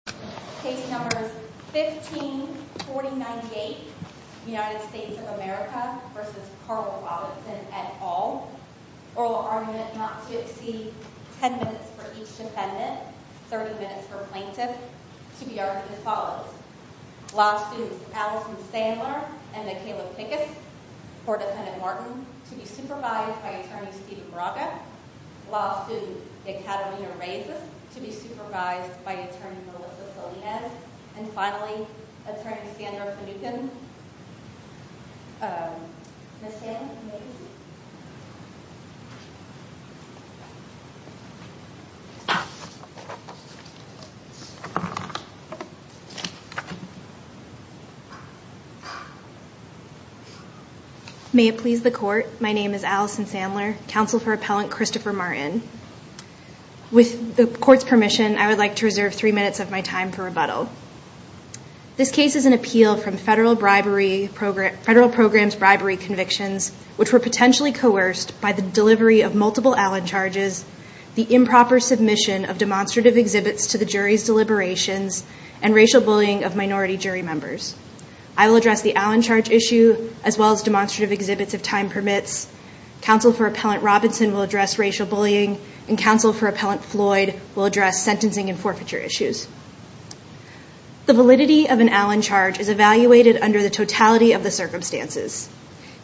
15-4098 USA v. Carl Robinson 10 minutes for each defendant, 30 minutes for plaintiff Allison Sandler and Michaela Pickett Attorney Steve Baraka Attorney Melissa Perlman Attorney Sandra Smith May it please the court, my name is Allison Sandler, counsel for appellant Christopher Martin. With the court's permission, I would like to reserve three minutes of my time for rebuttal. This case is an appeal from federal programs bribery convictions, which were potentially coerced by the delivery of multiple Allen charges, the improper submission of demonstrative exhibits to the jury's deliberations, and racial bullying of minority jury members. I will address the Allen charge issue, as well as demonstrative exhibits if time permits. Counsel for appellant Robinson will address racial bullying, and counsel for appellant Floyd will address sentencing and forfeiture issues. The validity of an Allen charge is evaluated under the totality of the circumstances.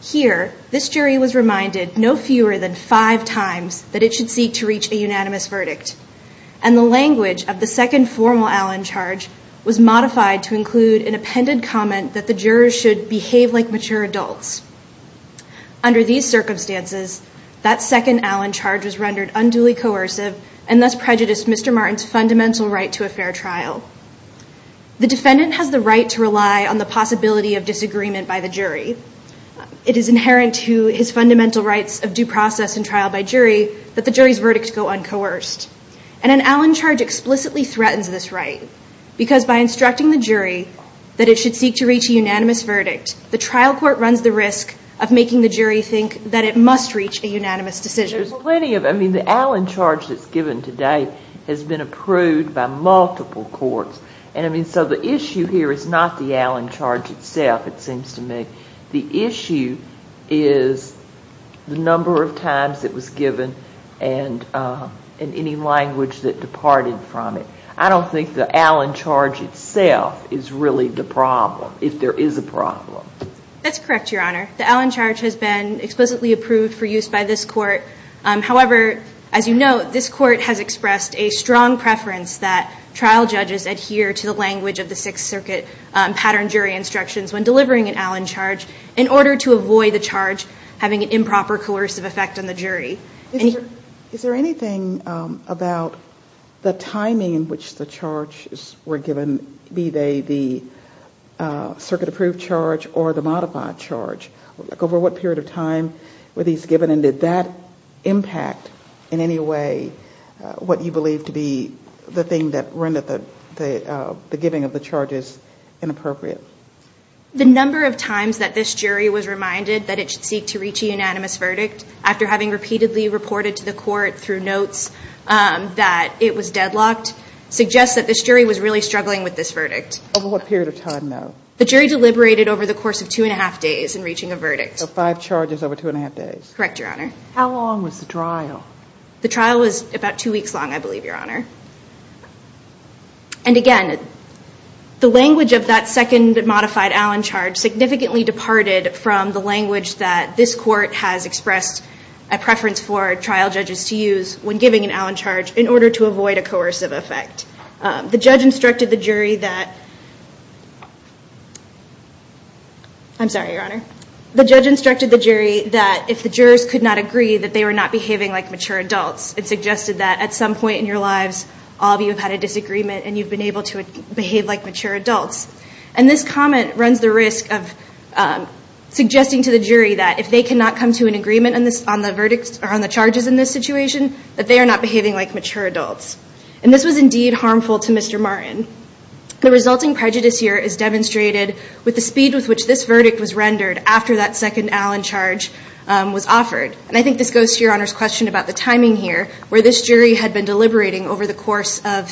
Here, this jury was reminded no fewer than five times that it should seek to reach a unanimous verdict, and the language of the second formal Allen charge was modified to include an appended comment that the jurors should behave like mature adults. Under these circumstances, that second Allen charge was rendered unduly coercive and thus prejudiced Mr. Martin's fundamental right to a fair trial. The defendant has the right to rely on the possibility of disagreement by the jury. It is inherent to his fundamental rights of due process and trial by jury that the jury's verdicts go uncoerced, and an Allen charge explicitly threatens this right, because by instructing the jury that it should seek to reach a unanimous verdict, the trial court runs the risk of making the jury think that it must reach a unanimous decision. There's plenty of, I mean, the Allen charge that's given today has been approved by multiple courts, and I mean, so the issue here is not the Allen charge itself, it seems to me. The issue is the number of times it was given and any language that departed from it. I don't think the Allen charge itself is really the problem, if there is a problem. That's correct, Your Honor. The Allen charge has been explicitly approved for use by this court. However, as you know, this court has expressed a strong preference that trial judges adhere to the language of the Sixth Circuit pattern jury instructions when delivering an Allen charge in order to avoid the charge having an improper coercive effect on the jury. Is there anything about the timing in which the charges were given, be they the circuit-approved charge or the modified charge? Over what period of time were these given, and did that impact in any way what you believe to be the thing that rendered the giving of the charges inappropriate? The number of times that this jury was reminded that it should seek to reach a unanimous verdict after having repeatedly reported to the court through notes that it was deadlocked suggests that this jury was really struggling with this verdict. Over what period of time, though? The jury deliberated over the course of two and a half days in reaching a verdict. So five charges over two and a half days. Correct, Your Honor. How long was the trial? The trial was about two weeks long, I believe, Your Honor. And again, the language of that second modified Allen charge significantly departed from the language that this court has expressed a preference for trial judges to use when giving an Allen charge in order to avoid a coercive effect. The judge instructed the jury that if the jurors could not agree that they were not behaving like mature adults, it suggested that at some point in your lives, all of you have had a disagreement and you've been able to behave like mature adults. And this comment runs the risk of suggesting to the jury that if they cannot come to an agreement on the verdict or on the charges in this situation, that they are not behaving like mature adults. And this was indeed harmful to Mr. Martin. The resulting prejudice here is demonstrated with the speed with which this verdict was rendered after that second Allen charge was offered. And I think this goes to Your Honor's question about the timing here, where this jury had been deliberating over the course of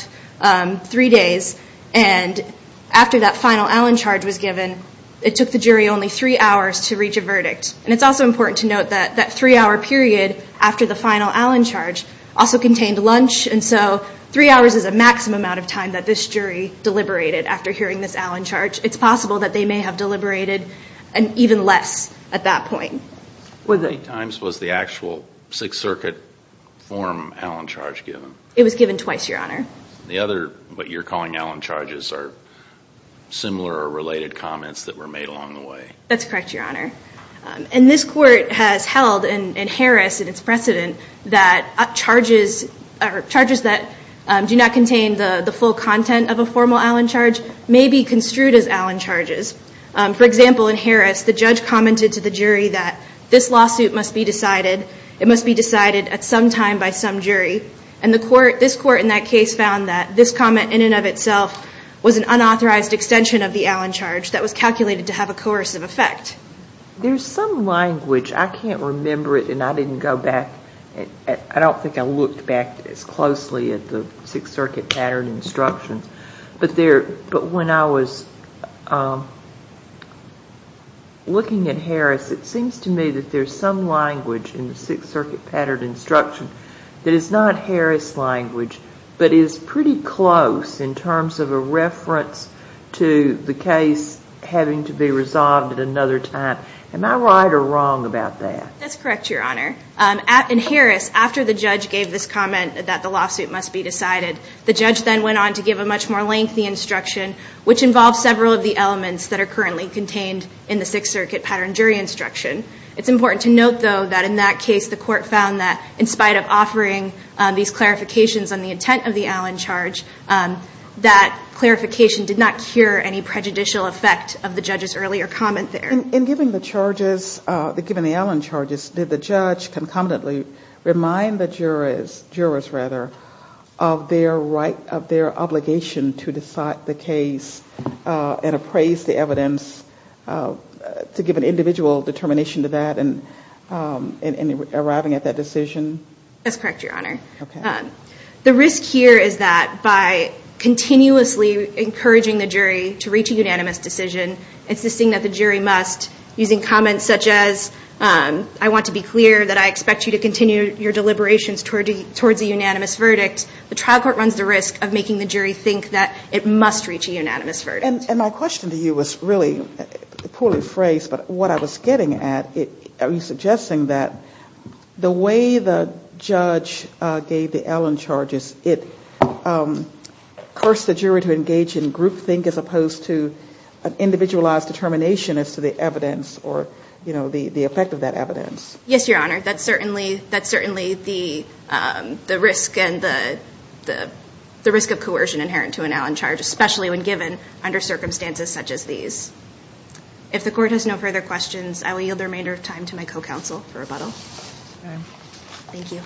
three days and after that final Allen charge was given, it took the jury only three hours to reach a verdict. And it's also important to note that that three-hour period after the final Allen charge also contained lunch, and so three hours is a maximum amount of time that this jury deliberated after hearing this Allen charge. It's possible that they may have deliberated even less at that point. How many times was the actual Sixth Circuit form Allen charge given? It was given twice, Your Honor. The other what you're calling Allen charges are similar or related comments that were made along the way. That's correct, Your Honor. And this court has held in Harris and its precedent that charges that do not contain the full content of a formal Allen charge may be construed as Allen charges. For example, in Harris, the judge commented to the jury that this lawsuit must be decided. It must be decided at some time by some jury. And this court in that case found that this comment in and of itself was an unauthorized extension of the Allen charge that was calculated to have a coercive effect. There's some language. I can't remember it, and I didn't go back. I don't think I looked back as closely at the Sixth Circuit pattern instructions. But when I was looking at Harris, it seems to me that there's some language in the Sixth Circuit pattern instruction that is not Harris language but is pretty close in terms of a reference to the case having to be resolved at another time. Am I right or wrong about that? That's correct, Your Honor. In Harris, after the judge gave this comment that the lawsuit must be decided, the judge then went on to give a much more lengthy instruction, which involves several of the elements that are currently contained in the Sixth Circuit pattern jury instruction. It's important to note, though, that in that case, the court found that in spite of offering these clarifications on the intent of the Allen charge, that clarification did not cure any prejudicial effect of the judge's earlier comment there. And given the Allen charges, did the judge concomitantly remind the jurors of their obligation to decide the case and appraise the evidence to give an individual determination to that in arriving at that decision? That's correct, Your Honor. The risk here is that by continuously encouraging the jury to reach a unanimous decision, insisting that the jury must, using comments such as, I want to be clear that I expect you to continue your deliberations toward the unanimous verdict, the trial court runs the risk of making the jury think that it must reach a unanimous verdict. And my question to you was really poorly phrased, but what I was getting at, I was suggesting that the way the judge gave the Allen charges, it cursed the jury to engage in group think as opposed to an individualized determination as to the evidence or the effect of that evidence. Yes, Your Honor. That's certainly the risk of coercion inherent to an Allen charge, especially when given under circumstances such as these. If the court has no further questions, I will yield the remainder of time to my co-counsel for rebuttal. Thank you.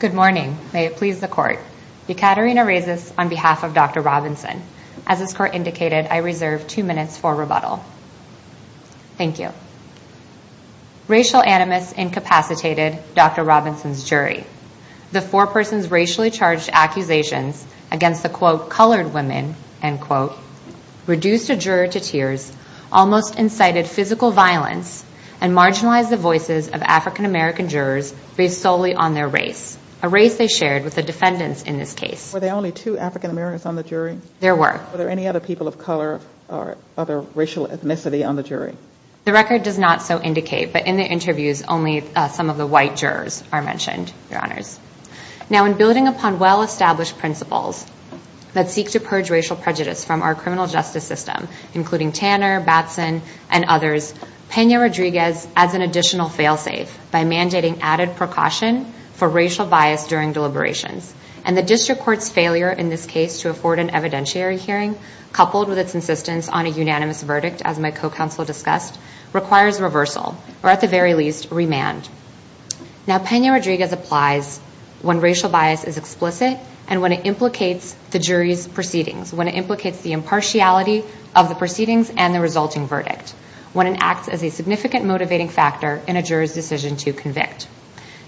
Good morning. May it please the court. Ekaterina Rezis on behalf of Dr. Robinson. As this court indicated, I reserve two minutes for rebuttal. Thank you. Racial animus incapacitated Dr. Robinson's jury. The four persons racially charged accusations against the, quote, colored women, end quote, reduced a juror to tears, almost incited physical violence, and marginalized the voices of African-American jurors based solely on their race, a race they shared with the defendants in this case. Were there only two African-Americans on the jury? There were. Were there any other people of color or other racial ethnicity on the jury? The record does not so indicate, but in the interviews, only some of the white jurors are mentioned, Your Honors. Now, in building upon well-established principles that seek to purge racial prejudice from our criminal justice system, including Tanner, Batson, and others, Pena-Rodriguez adds an additional fail-safe by mandating added precaution for racial bias during deliberation. And the district court's failure in this case to afford an evidentiary hearing, coupled with its insistence on a unanimous verdict, as my co-counsel discussed, requires reversal, or at the very least, remand. Now, Pena-Rodriguez applies when racial bias is explicit and when it implicates the jury's proceedings, when it implicates the impartiality of the proceedings and the resulting verdict, when it acts as a significant motivating factor in a juror's decision to convict.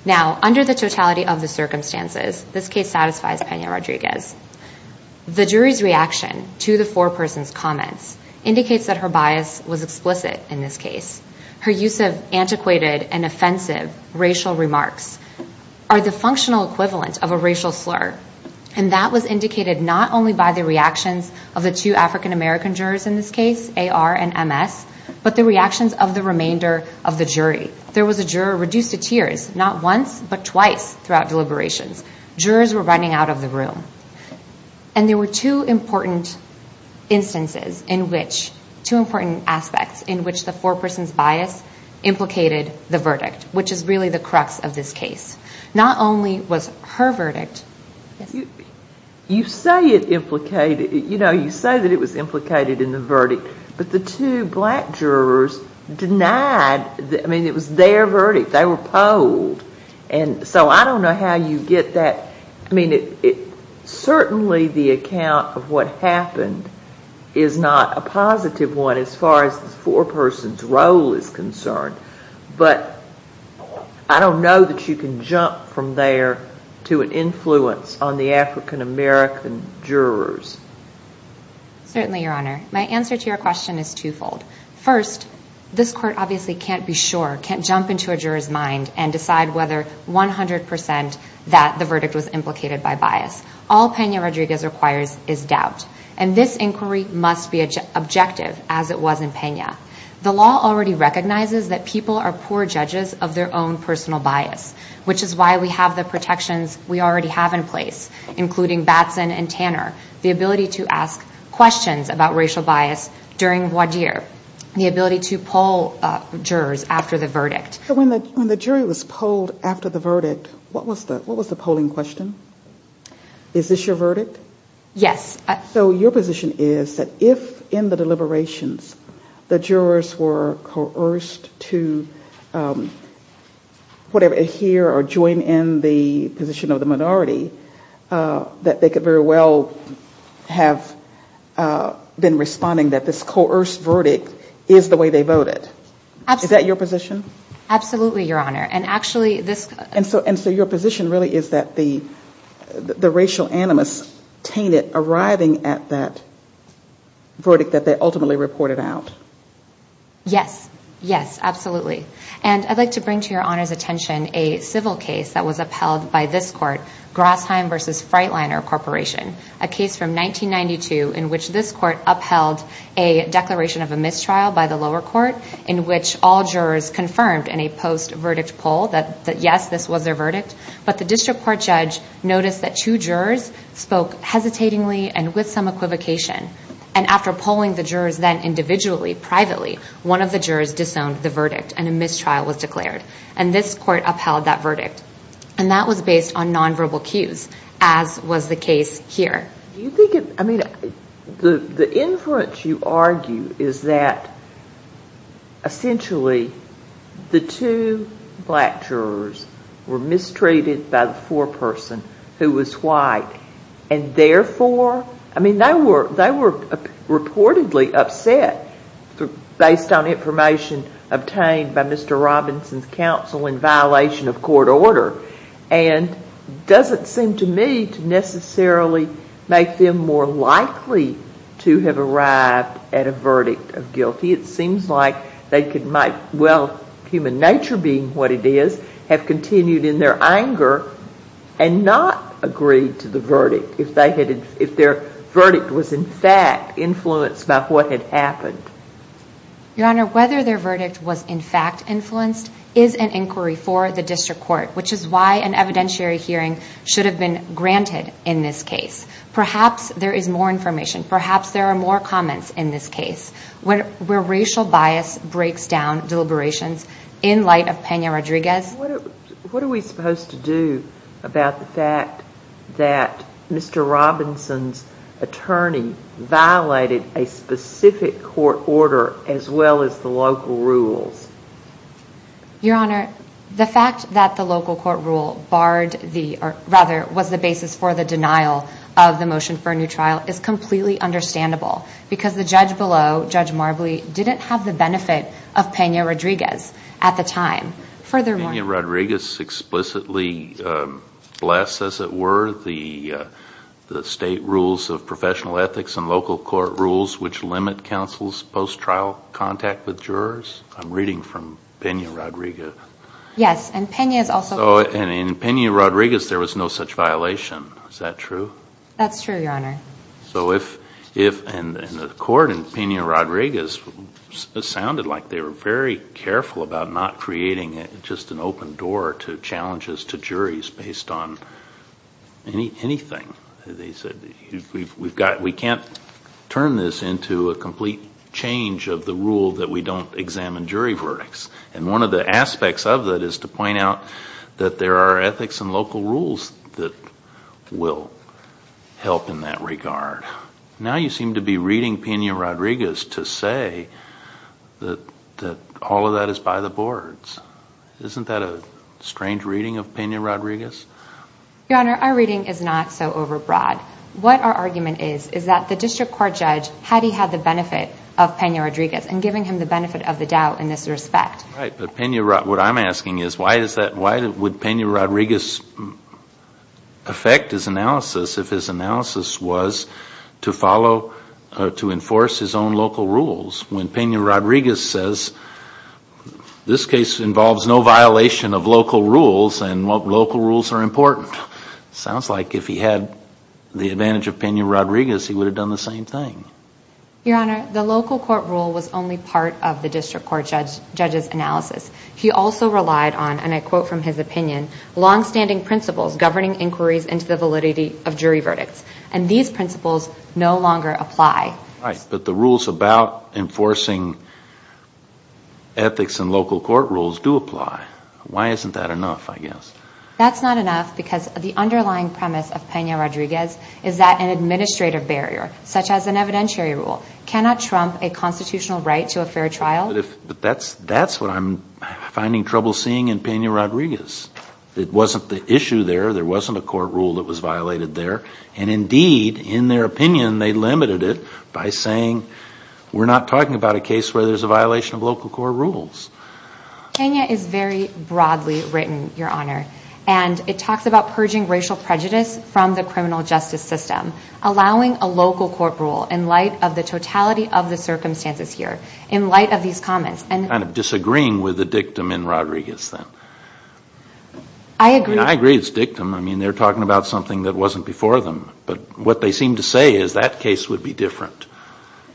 Now, under the totality of the circumstances, this case satisfies Pena-Rodriguez. The jury's reaction to the foreperson's comments indicates that her bias was explicit in this case. Her use of antiquated and offensive racial remarks are the functional equivalent of a racial slur, and that was indicated not only by the reaction of the two African-American jurors in this case, A.R. and M.S., but the reactions of the remainder of the jury. There was a juror reduced to tears not once but twice throughout deliberation. Jurors were running out of the room. And there were two important instances in which, two important aspects, in which the foreperson's bias implicated the verdict, which is really the crux of this case. Not only was her verdict. You say it implicated, you know, you say that it was implicated in the verdict, but the two black jurors denied, I mean, it was their verdict. They were polled. And so I don't know how you get that. I mean, certainly the account of what happened is not a positive one as far as the foreperson's role is concerned. But I don't know that you can jump from there to an influence on the African-American jurors. Certainly, Your Honor. My answer to your question is twofold. First, this court obviously can't be sure, can't jump into a juror's mind, and decide whether 100% that the verdict was implicated by bias. All Pena Rodriguez requires is doubt. And this inquiry must be objective, as it was in Pena. The law already recognizes that people are poor judges of their own personal bias, which is why we have the protections we already have in place, including Batson and Tanner, the ability to ask questions about racial bias during voir dire, the ability to poll jurors after the verdict. So when the jury was polled after the verdict, what was the polling question? Is this your verdict? Yes. So your position is that if in the deliberations the jurors were coerced to adhere or join in the position of the minority, that they could very well have been responding that this coerced verdict is the way they voted. Is that your position? Absolutely, Your Honor. And so your position really is that the racial animus painted arriving at that verdict that they ultimately reported out. Yes. Yes, absolutely. And I'd like to bring to Your Honor's attention a civil case that was upheld by this court, Glassheim v. Freitliner Corporation, a case from 1992 in which this court upheld a declaration of a mistrial by the lower court in which all jurors confirmed in a post-verdict poll that yes, this was their verdict, but the district court judge noticed that two jurors spoke hesitatingly and with some equivocation. And after polling the jurors then individually, privately, one of the jurors disowned the verdict and a mistrial was declared. And this court upheld that verdict. And that was based on nonverbal cues, as was the case here. I mean, the inference you argue is that essentially the two black jurors were mistreated by the poor person who was white and therefore, I mean, they were reportedly upset based on information obtained by Mr. Robinson's counsel in violation of court order. And it doesn't seem to me to necessarily make them more likely to have arrived at a verdict of guilty. It seems like they could make, well, human nature being what it is, have continued in their anger and not agreed to the verdict if their verdict was in fact influenced by what had happened. Your Honor, whether their verdict was in fact influenced is an inquiry for the district court, which is why an evidentiary hearing should have been granted in this case. Perhaps there is more information. Perhaps there are more comments in this case where racial bias breaks down deliberations in light of Pena-Rodriguez. What are we supposed to do about the fact that Mr. Robinson's attorney violated a specific court order as well as the local rules? Your Honor, the fact that the local court rule was the basis for the denial of the motion for a new trial is completely understandable because the judge below, Judge Marbley, didn't have the benefit of Pena-Rodriguez at the time. Furthermore… Pena-Rodriguez explicitly blessed, as it were, the state rules of professional ethics and local court rules which limit counsel's post-trial contact with jurors? I'm reading from Pena-Rodriguez. Yes, and Pena is also… And in Pena-Rodriguez there was no such violation. Is that true? That's true, Your Honor. And the court in Pena-Rodriguez sounded like they were very careful about not creating just an open door to challenges to juries based on anything. They said, we can't turn this into a complete change of the rule that we don't examine jury verdicts. And one of the aspects of it is to point out that there are ethics and local rules that will help in that regard. Now you seem to be reading Pena-Rodriguez to say that all of that is by the boards. Isn't that a strange reading of Pena-Rodriguez? Your Honor, our reading is not so overbroad. What our argument is, is that the district court judge had he had the benefit of Pena-Rodriguez and giving him the benefit of the doubt in this respect. Right, but what I'm asking is why would Pena-Rodriguez affect his analysis if his analysis was to follow, to enforce his own local rules? When Pena-Rodriguez says this case involves no violation of local rules and local rules are important. Sounds like if he had the advantage of Pena-Rodriguez, he would have done the same thing. Your Honor, the local court rule was only part of the district court judge's analysis. He also relied on, and I quote from his opinion, long-standing principles governing inquiries and civility of jury verdicts. And these principles no longer apply. Right, but the rules about enforcing ethics and local court rules do apply. Why isn't that enough, I guess? That's not enough because the underlying premise of Pena-Rodriguez is that an administrative barrier, such as an evidentiary rule, cannot trump a constitutional right to a fair trial. But that's what I'm finding trouble seeing in Pena-Rodriguez. It wasn't the issue there, there wasn't a court rule that was violated there. And indeed, in their opinion, they limited it by saying we're not talking about a case where there's a violation of local court rules. Pena is very broadly written, Your Honor, and it talks about purging racial prejudice from the criminal justice system, allowing a local court rule in light of the totality of the circumstances here, in light of these comments. Kind of disagreeing with the dictum in Rodriguez then. I agree. I agree it's a dictum. I mean, they're talking about something that wasn't before them. But what they seem to say is that case would be different.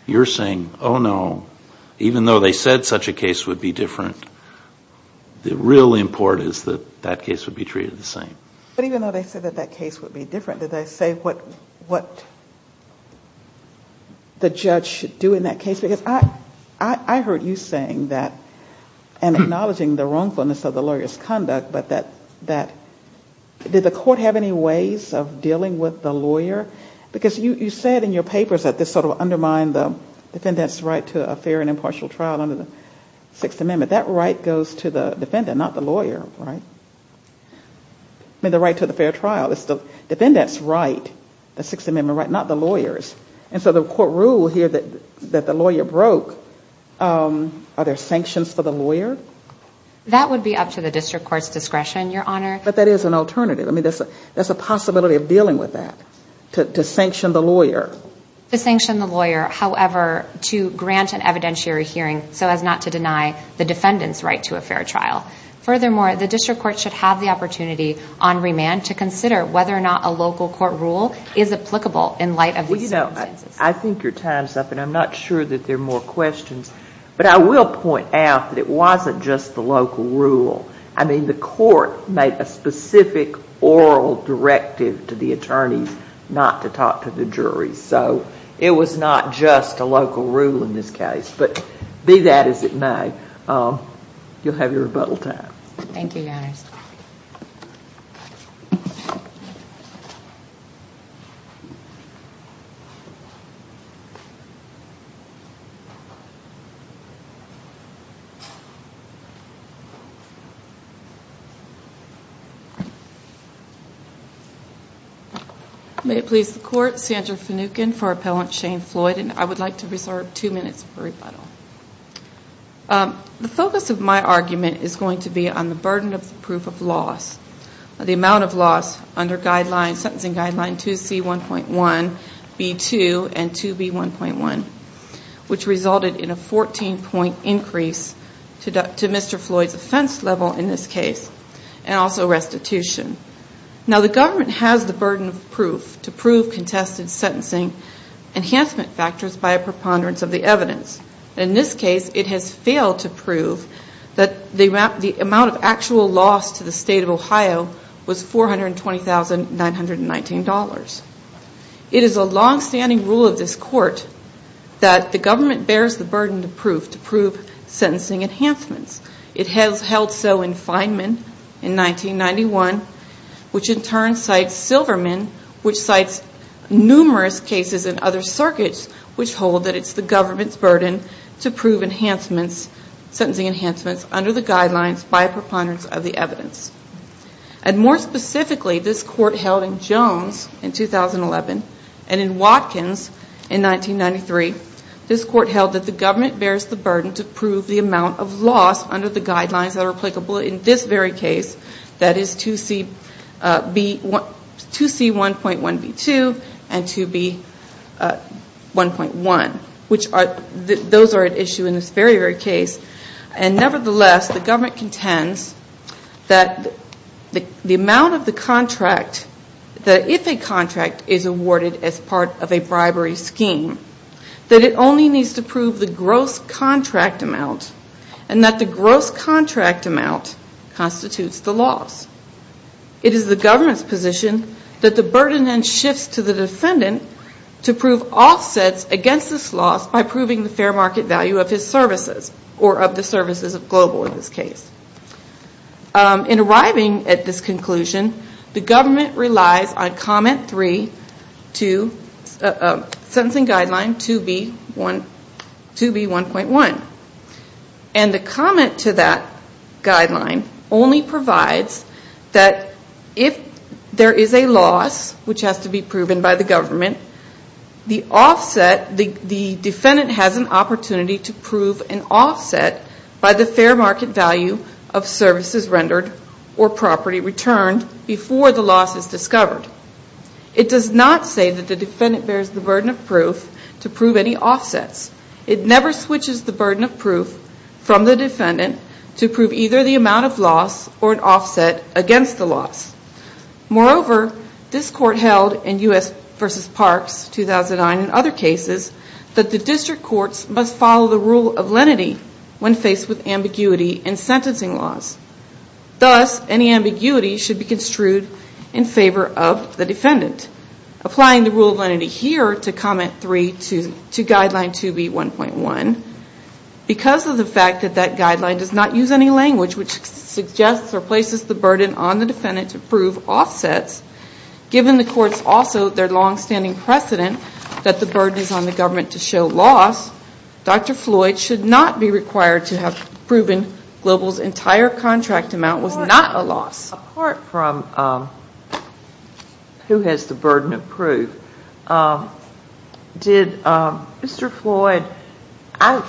You're saying, oh, no, even though they said such a case would be different, the real import is that that case would be treated the same. But even though they said that that case would be different, did they say what the judge should do in that case? Because I heard you saying that, and acknowledging the wrongfulness of the lawyer's conduct, but that did the court have any ways of dealing with the lawyer? Because you said in your papers that this sort of undermined the defendant's right to a fair and impartial trial under the Sixth Amendment. That right goes to the defendant, not the lawyer, right? And the right to the fair trial is the defendant's right, the Sixth Amendment right, not the lawyer's. And so the court rule here that the lawyer broke, are there sanctions for the lawyer? That would be up to the district court's discretion, Your Honor. But that is an alternative. I mean, there's a possibility of dealing with that, to sanction the lawyer. To sanction the lawyer, however, to grant an evidentiary hearing so as not to deny the defendant's right to a fair trial. Furthermore, the district court should have the opportunity on remand to consider whether or not a local court rule is applicable in light of veto. I think you're tying us up, and I'm not sure that there are more questions. But I will point out that it wasn't just the local rule. I mean, the court made a specific oral directive to the attorney not to talk to the jury. So it was not just a local rule in this case. But be that as it may, you'll have your rebuttal time. Thank you, Your Honor. May it please the court. Sandra Sanukin for Appellant Shane Floyd. And I would like to reserve two minutes for rebuttal. The focus of my argument is going to be on the burden of proof of loss. The amount of loss under Sentencing Guideline 2C1.1, B2, and 2B1.1, which resulted in a 14-point increase to Mr. Floyd's offense level in this case, and also restitution. Now, the government has the burden of proof to prove contested sentencing enhancement factors by a preponderance of the evidence. In this case, it has failed to prove that the amount of actual loss to the state of Ohio was $420,919. It is a long-standing rule of this court that the government bears the burden of proof to prove sentencing enhancements. It has held so in Feynman in 1991, which in turn cites Silverman, which cites numerous cases in other circuits, which hold that it's the government's burden to prove enhancements, sentencing enhancements under the guidelines by a preponderance of the evidence. More specifically, this court held in Jones in 2011, and in Watkins in 1993, this court held that the government bears the burden to prove the amount of loss under the guidelines that are applicable in this very case, that is, 2C1.1, B2, and 2B1.1. Those are at issue in this very, very case. Nevertheless, the government contends that the amount of the contract, that if a contract is awarded as part of a bribery scheme, that it only needs to prove the gross contract amount, and that the gross contract amount constitutes the loss. It is the government's position that the burden then shifts to the descendant to prove offsets against this loss by proving the fair market value of his services, or of the services of global in this case. In arriving at this conclusion, the government relies on comment 3 to sentencing guideline 2B1.1, and the comment to that guideline only provides that if there is a loss, which has to be proven by the government, the defendant has an opportunity to prove an offset by the fair market value of services rendered or property returned before the loss is discovered. It does not say that the descendant bears the burden of proof to prove any offsets. It never switches the burden of proof from the descendant to prove either the amount of loss or an offset against the loss. Moreover, this court held in U.S. v. Parks 2009 and other cases that the district courts must follow the rule of lenity when faced with ambiguity in sentencing laws. Thus, any ambiguity should be construed in favor of the defendant. Applying the rule of lenity here to comment 3 to guideline 2B1.1, because of the fact that that guideline does not use any language which suggests or places the burden on the defendant to prove offsets, given the court's also their longstanding precedent that the burden is on the government to show loss, Dr. Floyd should not be required to have proven Global's entire contract amount was not a loss. Apart from who has the burden of proof, did Mr. Floyd, I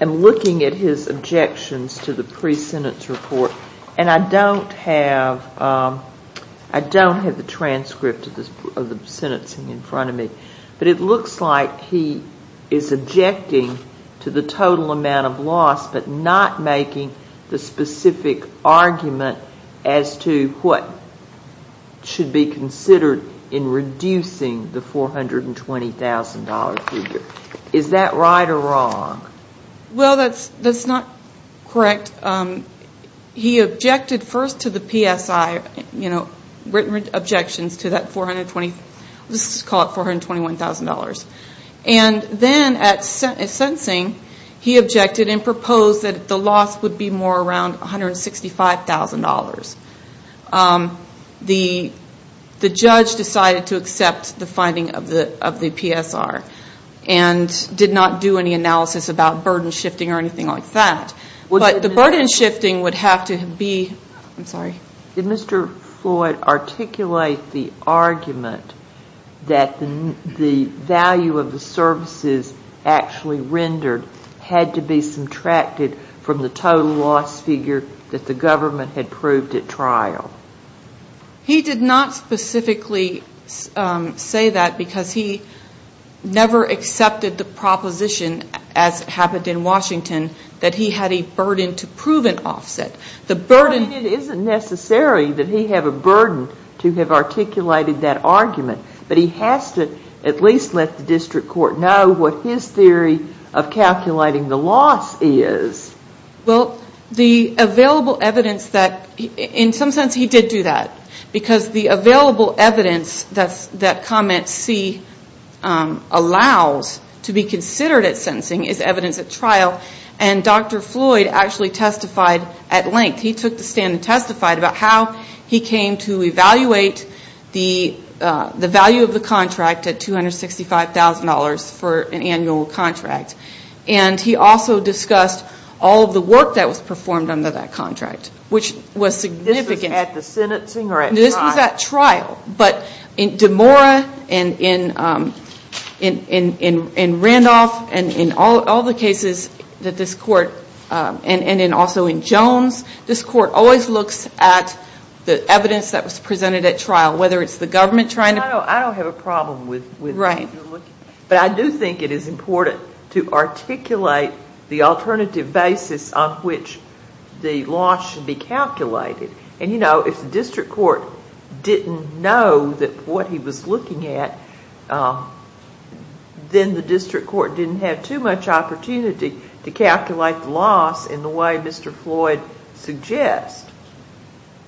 am looking at his objections to the pre-sentence report and I don't have the transcript of the sentencing in front of me, but it looks like he is objecting to the total amount of loss but not making the specific argument as to what should be considered in reducing the $420,000 figure. Is that right or wrong? Well, that's not correct. He objected first to the PSI, written objections to that $421,000. And then at sentencing, he objected and proposed that the loss would be more around $165,000. The judge decided to accept the finding of the PSR and did not do any analysis about burden shifting or anything like that. But the burden shifting would have to be... Did Mr. Floyd articulate the argument that the value of the services actually rendered had to be subtracted from the total loss figure that the government had proved at trial? He did not specifically say that because he never accepted the proposition, as happened in Washington, that he had a burden to prove an offset. The burden... It isn't necessary that he have a burden to have articulated that argument, but he has to at least let the district court know what his theory of calculating the loss is. Well, the available evidence that... And sometimes he did do that because the available evidence that comments C allows to be considered at sentencing is evidence at trial, and Dr. Floyd actually testified at length. He took the stand and testified about how he came to evaluate the value of the contract at $265,000 for an annual contract. And he also discussed all the work that was performed under that contract, which was significant. This was at the sentencing or at trial? This was at trial, but in DeMora and in Randolph and in all the cases that this court... And then also in Jones, this court always looks at the evidence that was presented at trial, whether it's the government trying to... I don't have a problem with... Right. But I do think it is important to articulate the alternative basis on which the loss should be calculated. And, you know, if the district court didn't know what he was looking at, then the district court didn't have too much opportunity to calculate the loss in the way Mr. Floyd suggests.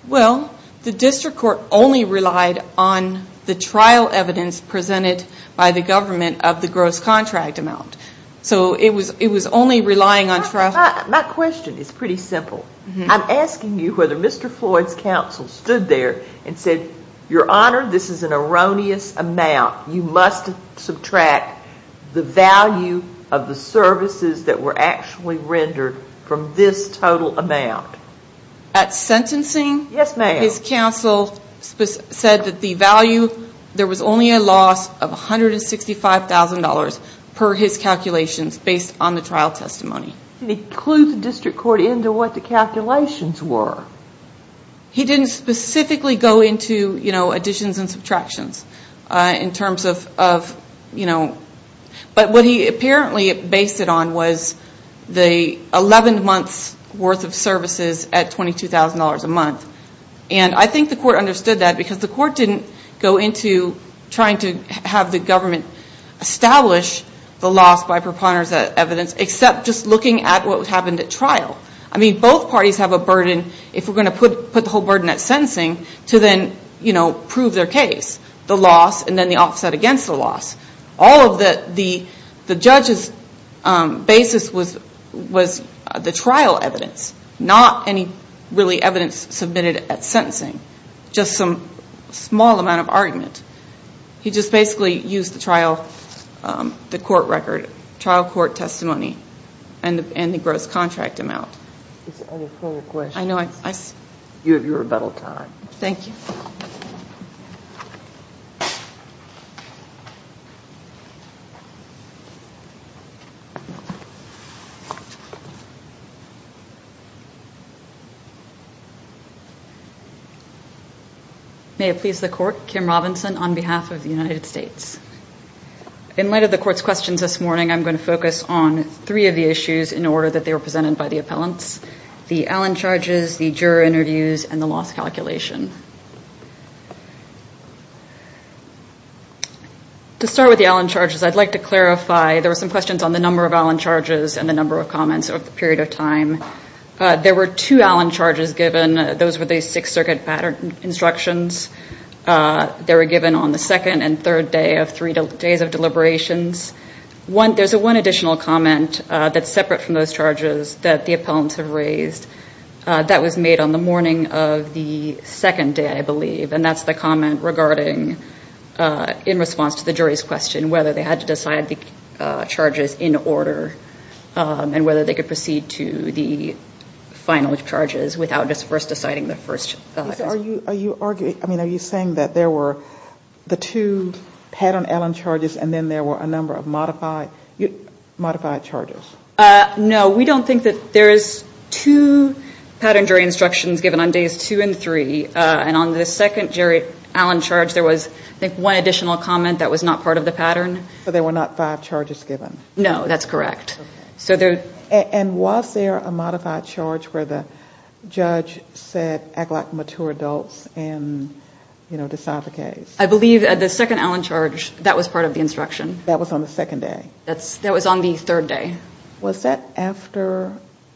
Well, the district court only relied on the trial evidence presented by the government of the gross contract amount. So it was only relying on... Not questioned. It's pretty simple. I'm asking you whether Mr. Floyd's counsel stood there and said, Your Honor, this is an erroneous amount. You must subtract the value of the services that were actually rendered from this total amount. At sentencing... Yes, ma'am. His counsel said that the value, there was only a loss of $165,000 per his calculations based on the trial testimony. And he clues the district court into what the calculations were. He didn't specifically go into, you know, additions and subtractions in terms of, you know... But what he apparently based it on was the 11 months worth of services at $22,000 a month. And I think the court understood that because the court didn't go into trying to have the government establish the loss by preponderance of evidence except just looking at what happened at trial. I mean, both parties have a burden, if we're going to put the whole burden at sentencing, to then, you know, prove their case. The loss and then the offset against the loss. All of the judge's basis was the trial evidence, not any really evidence submitted at sentencing. Just some small amount of argument. He just basically used the trial, the court record, trial court testimony and the gross contract amount. I have a follow-up question. I know. You have your rebuttal time. Thank you. May it please the court, Kim Robinson on behalf of the United States. In light of the court's questions this morning, I'm going to focus on three of the issues in order that they were presented by the appellants. The Allen charges, the juror interviews, and the loss calculation. Before we go with the Allen charges, I'd like to clarify, there were some questions on the number of Allen charges and the number of comments over the period of time. There were two Allen charges given. Those were the six circuit pattern instructions. They were given on the second and third day of three days of deliberations. There's one additional comment that's separate from those charges that the appellants have raised. That's the comment regarding, in response to the jury's question, whether they had to decide the charges in order and whether they could proceed to the final charges without just first deciding the first. Are you saying that there were the two pattern Allen charges and then there were a number of modified charges? No. We don't think that there's two pattern jury instructions given on days two and three. On the second jury Allen charge, there was one additional comment that was not part of the pattern. So there were not five charges given? No, that's correct. Was there a modified charge where the judge said, act like mature adults and decide the case? I believe that the second Allen charge, that was part of the instruction. That was on the second day? That was on the third day. Was that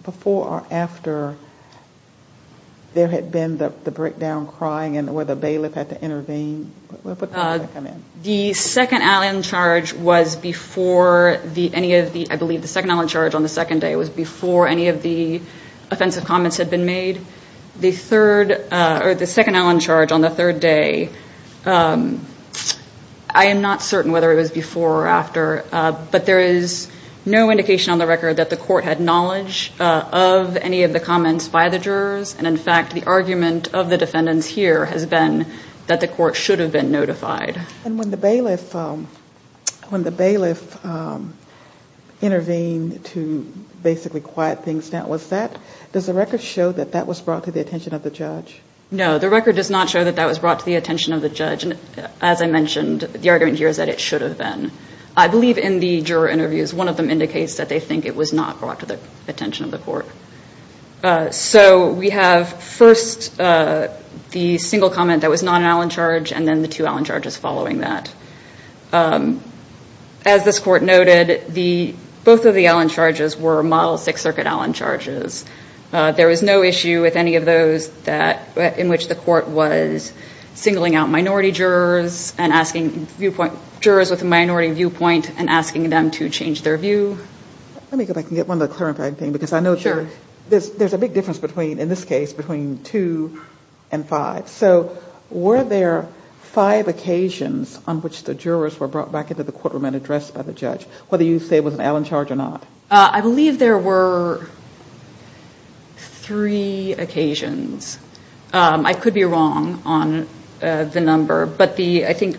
before or after there had been the breakdown crying and where the bailiff had to intervene? The second Allen charge was before any of the offensive comments had been made. The second Allen charge on the third day, I am not certain whether it was before or after, but there is no indication on the record that the court had knowledge of any of the comments by the jurors. In fact, the argument of the defendants here has been that the court should have been notified. When the bailiff intervened to basically quiet things down, does the record show that that was brought to the attention of the judge? No, the record does not show that that was brought to the attention of the judge. As I mentioned, the argument here is that it should have been. I believe in the juror interviews, one of them indicates that they think it was not brought to the attention of the court. So we have first the single comment that was not an Allen charge and then the two Allen charges following that. As this court noted, both of the Allen charges were model Sixth Circuit Allen charges. There was no issue with any of those in which the court was singling out minority jurors and asking jurors with a minority viewpoint and asking them to change their view. Let me go back and get one more clarifying thing because I know there is a big difference in this case between two and five. So were there five occasions on which the jurors were brought back into the courtroom and addressed by the judge, whether you say it was an Allen charge or not? I believe there were three occasions. I could be wrong on the number, but I think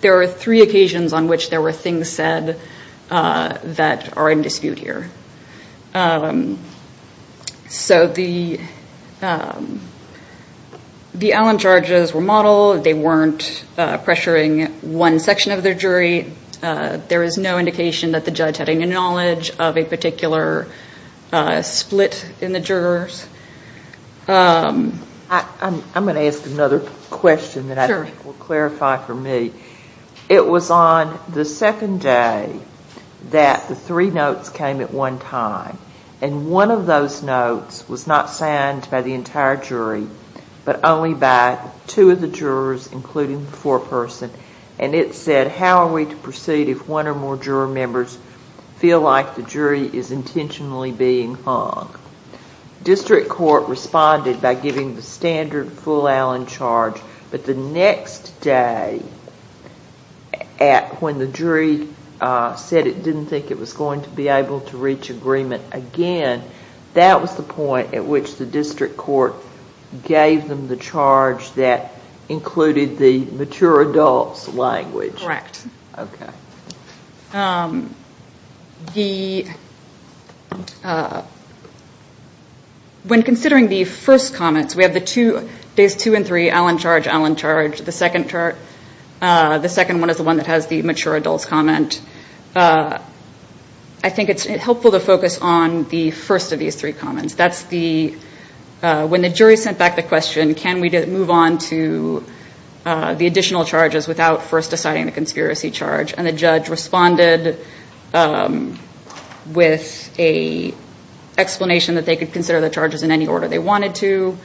there were three occasions on which there were things said that are in dispute here. So the Allen charges were model. They weren't pressuring one section of the jury. There is no indication that the judge had any knowledge of a particular split in the jurors. I'm going to ask another question that I think will clarify for me. It was on the second day that the three notes came at one time, and one of those notes was not signed by the entire jury but only by two of the jurors, including the foreperson, and it said, how are we to proceed if one or more juror members feel like the jury is intentionally being hung? District court responded by giving the standard full Allen charge, but the next day when the jury said it didn't think it was going to be able to reach agreement again, that was the point at which the district court gave them the charge that included the mature adult language. Correct. Okay. When considering the first comments, there's two and three, Allen charge, Allen charge. The second one is the one that has the mature adult comment. I think it's helpful to focus on the first of these three comments. That's when the jury sent back the question, can we move on to the additional charges without first deciding the conspiracy charge, and the judge responded with an explanation that they could consider the charges in any order they wanted to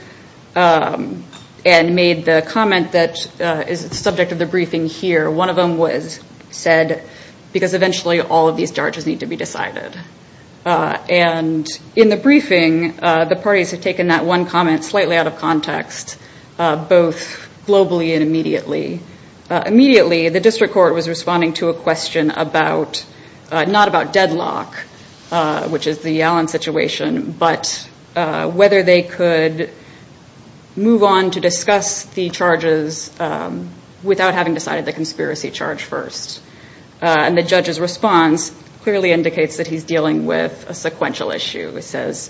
and made the comment that is the subject of the briefing here. One of them was said because eventually all of these charges need to be decided. And in the briefing, the parties have taken that one comment slightly out of context, both globally and immediately. Immediately, the district court was responding to a question about, not about deadlock, which is the Allen situation, but whether they could move on to discuss the charges without having decided the conspiracy charge first. And the judge's response clearly indicates that he's dealing with a sequential issue. It says,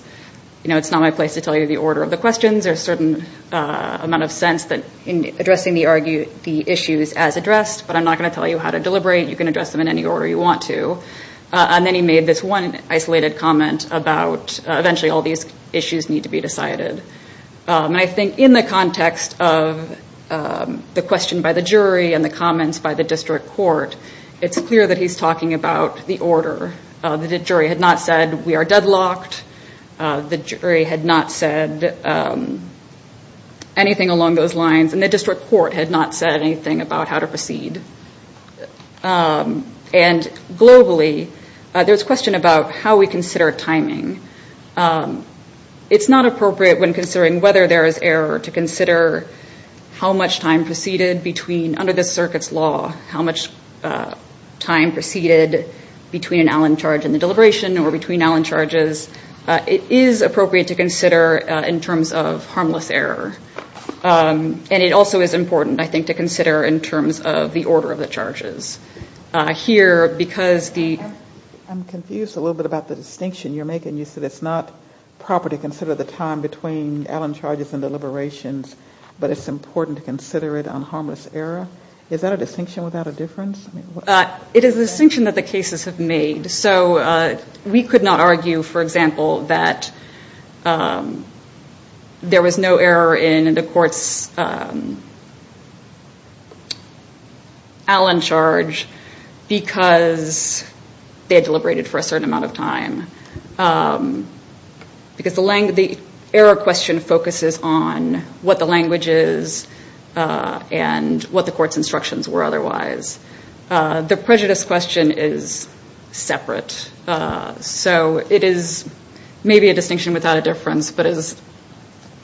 you know, it's not my place to tell you the order of the questions. There's a certain amount of sense in addressing the issues as addressed, but I'm not going to tell you how to deliberate. You can address them in any order you want to. And then he made this one isolated comment about eventually all these issues need to be decided. And I think in the context of the question by the jury and the comments by the district court, it's clear that he's talking about the order. The jury had not said we are deadlocked. The jury had not said anything along those lines, and the district court had not said anything about how to proceed. And globally, there's a question about how we consider timing. It's not appropriate when considering whether there is error to consider how much time preceded between, under the circuit's law, how much time preceded between an Allen charge and the deliberation or between Allen charges. It is appropriate to consider in terms of harmless error. And it also is important, I think, to consider in terms of the order of the charges. I'm confused a little bit about the distinction you're making. You said it's not proper to consider the time between Allen charges and deliberations, but it's important to consider it on harmless error. Is that a distinction without a difference? It is a distinction that the cases have made. We could not argue, for example, that there was no error in the court's Allen charge because they had deliberated for a certain amount of time. The error question focuses on what the language is and what the court's instructions were otherwise. The prejudice question is separate, so it is maybe a distinction without a difference, but it is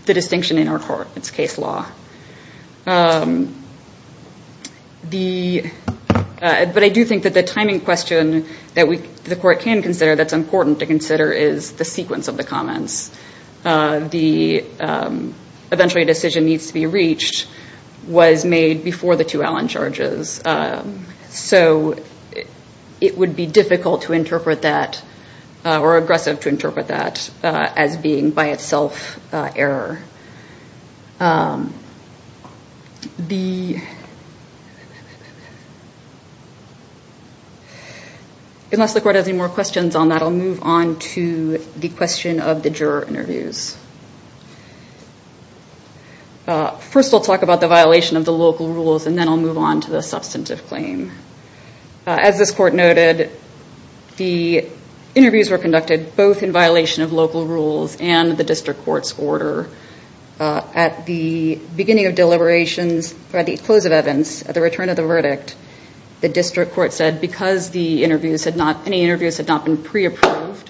the distinction in our court's case law. But I do think that the timing question that the court can consider, that's important to consider, is the sequence of the comments. The eventually decision needs to be reached was made before the two Allen charges, so it would be difficult to interpret that or aggressive to interpret that as being by itself error. Unless the court has any more questions on that, I'll move on to the question of the juror interviews. First, we'll talk about the violation of the local rules, and then we'll move on to the substantive claim. As this court noted, the interviews were conducted both in violation of local rules and the district court's order. At the beginning of deliberations, or at the close of evidence, at the return of the verdict, the district court said because any interviews had not been pre-approved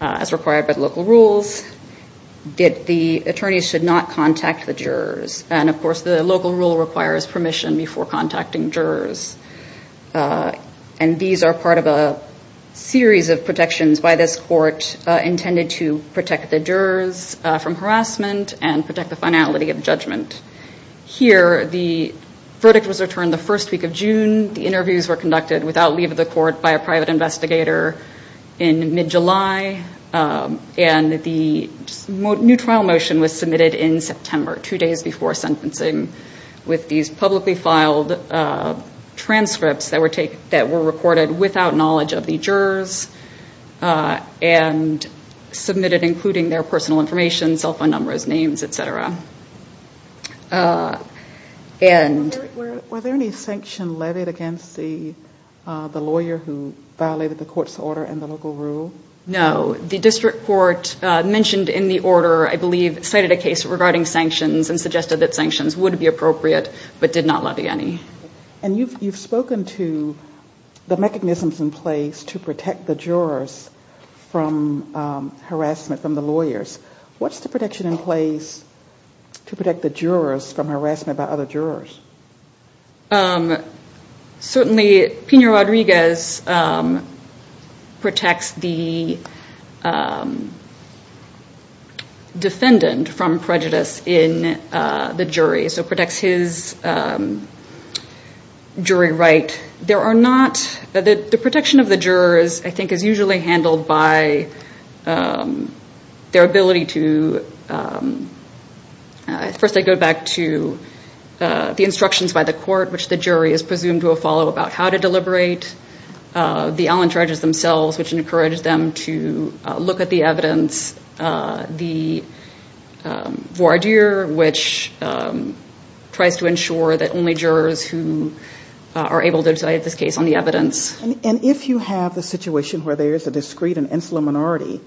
as required by the local rules, that the attorneys should not contact the jurors. Of course, the local rule requires permission before contacting jurors. And these are part of a series of protections by this court intended to protect the jurors from harassment and protect the finality of judgment. Here, the verdict was returned the first week of June. The interviews were conducted without leave of the court by a private investigator in mid-July, and the new trial motion was submitted in September, two days before sentencing, with these publicly filed transcripts that were reported without knowledge of the jurors and submitted including their personal information, cell phone numbers, names, etc. Were there any sanctions levied against the lawyer who violated the court's order and the local rule? No. The district court mentioned in the order, I believe, cited a case regarding sanctions and suggested that sanctions would be appropriate but did not levy any. And you've spoken to the mechanisms in place to protect the jurors from harassment from the lawyers. What's the protection in place to protect the jurors from harassment by other jurors? Certainly, Pino Rodriguez protects the defendant from prejudice in the jury, so protects his jury right. The protection of the jurors, I think, is usually handled by their ability to, first I go back to the instructions by the court, which the jury is presumed to have followed about how to deliberate. The Allen judges themselves, which encourage them to look at the evidence. The voir dire, which tries to ensure that only jurors who are able to decide this case on the evidence. And if you have a situation where there is a discreet and insular minority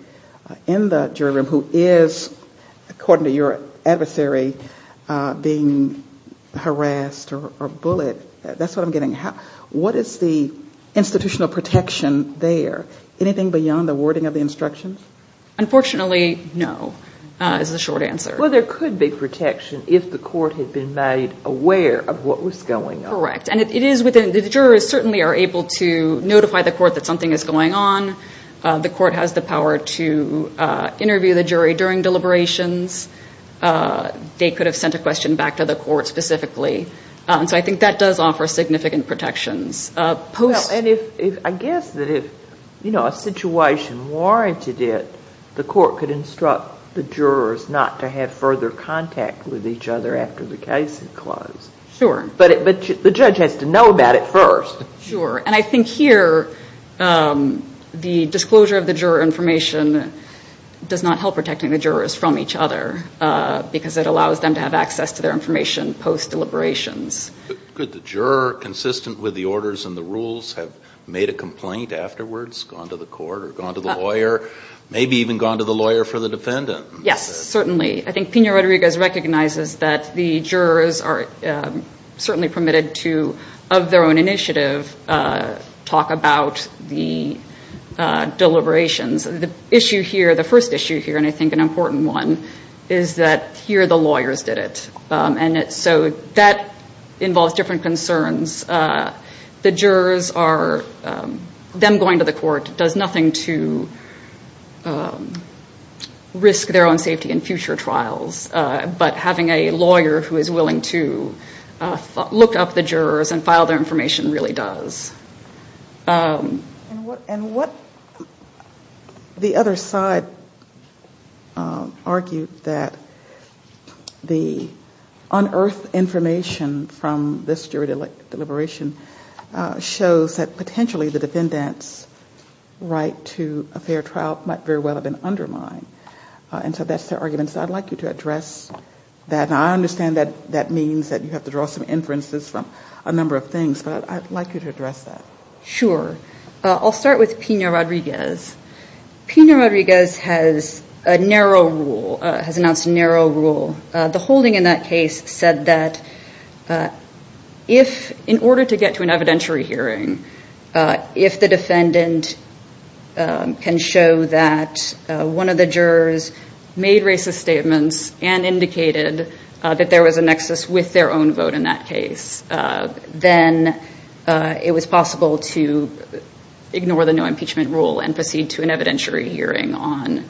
in the jury room who is, according to your adversary, being harassed or bullied, that's what I'm getting at. What is the institutional protection there? Anything beyond the wording of the instructions? Unfortunately, no, is the short answer. Well, there could be protection if the court had been made aware of what was going on. The jurors certainly are able to notify the court that something is going on. The court has the power to interview the jury during deliberations. They could have sent a question back to the court specifically. So I think that does offer significant protections. I guess that if a situation warranted it, the court could instruct the jurors not to have further contact with each other after the case is closed. Sure, but the judge has to know that at first. Sure, and I think here the disclosure of the juror information does not help protecting the jurors from each other because it allows them to have access to their information post-deliberations. Could the juror, consistent with the orders and the rules, have made a complaint afterwards, gone to the court or gone to the lawyer, maybe even gone to the lawyer for the defendant? Yes, certainly. I think Pena-Rodriguez recognizes that the jurors are certainly permitted to, of their own initiative, talk about the deliberations. The issue here, the first issue here, and I think an important one, is that here the lawyers did it. So that involves different concerns. The jurors are then going to the court. It does nothing to risk their own safety in future trials, but having a lawyer who is willing to look up the jurors and file their information really does. And what the other side argued that the unearthed information from this jury deliberation shows that potentially the defendant's right to a fair trial might very well have been underlined. And so that's their argument. So I'd like you to address that. And I understand that that means that you have to draw some inferences from a number of things, but I'd like you to address that. Sure. I'll start with Pena-Rodriguez. Pena-Rodriguez has a narrow rule, has announced a narrow rule. The holding in that case said that if, in order to get to an evidentiary hearing, if the defendant can show that one of the jurors made racist statements and indicated that there was a nexus with their own vote in that case, then it was possible to ignore the new impeachment rule and proceed to an evidentiary hearing on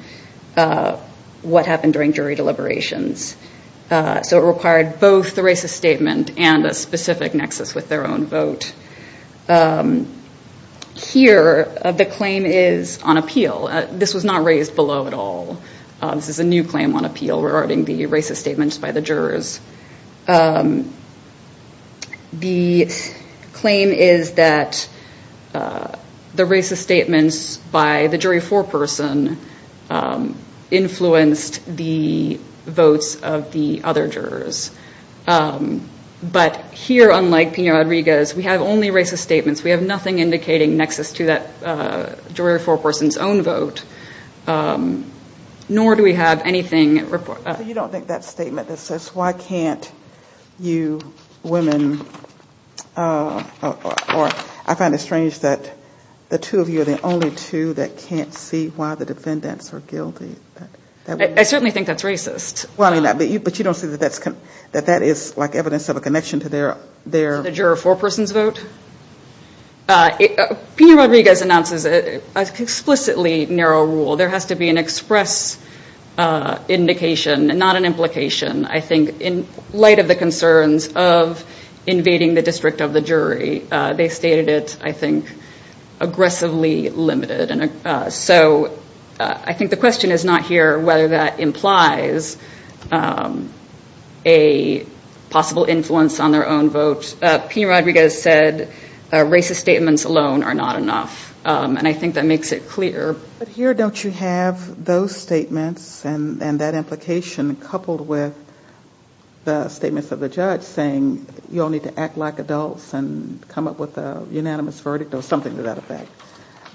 what happened during jury deliberations. So it required both the racist statement and a specific nexus with their own vote. Here, the claim is on appeal. This was not raised below at all. This is a new claim on appeal regarding the racist statements by the jurors. The claim is that the racist statements by the jury foreperson influenced the votes of the other jurors. But here, unlike Pena-Rodriguez, we have only racist statements. We have nothing indicating nexus to that jury foreperson's own vote, nor do we have anything. You don't think that statement that says, why can't you women, or I find it strange that the two of you are the only two that can't see why the defendants are guilty. I certainly think that's racist. But you don't see that that is like evidence of a connection to their... The juror foreperson's vote? Pena-Rodriguez announces an explicitly narrow rule. There has to be an express indication and not an implication, I think, in light of the concerns of invading the district of the jury. They stated it, I think, aggressively limited. So I think the question is not here whether that implies a possible influence on their own vote. Pena-Rodriguez said racist statements alone are not enough, and I think that makes it clear. But here don't you have those statements and that implication coupled with the statements of the judge saying, you all need to act like adults and come up with a unanimous verdict or something to that effect.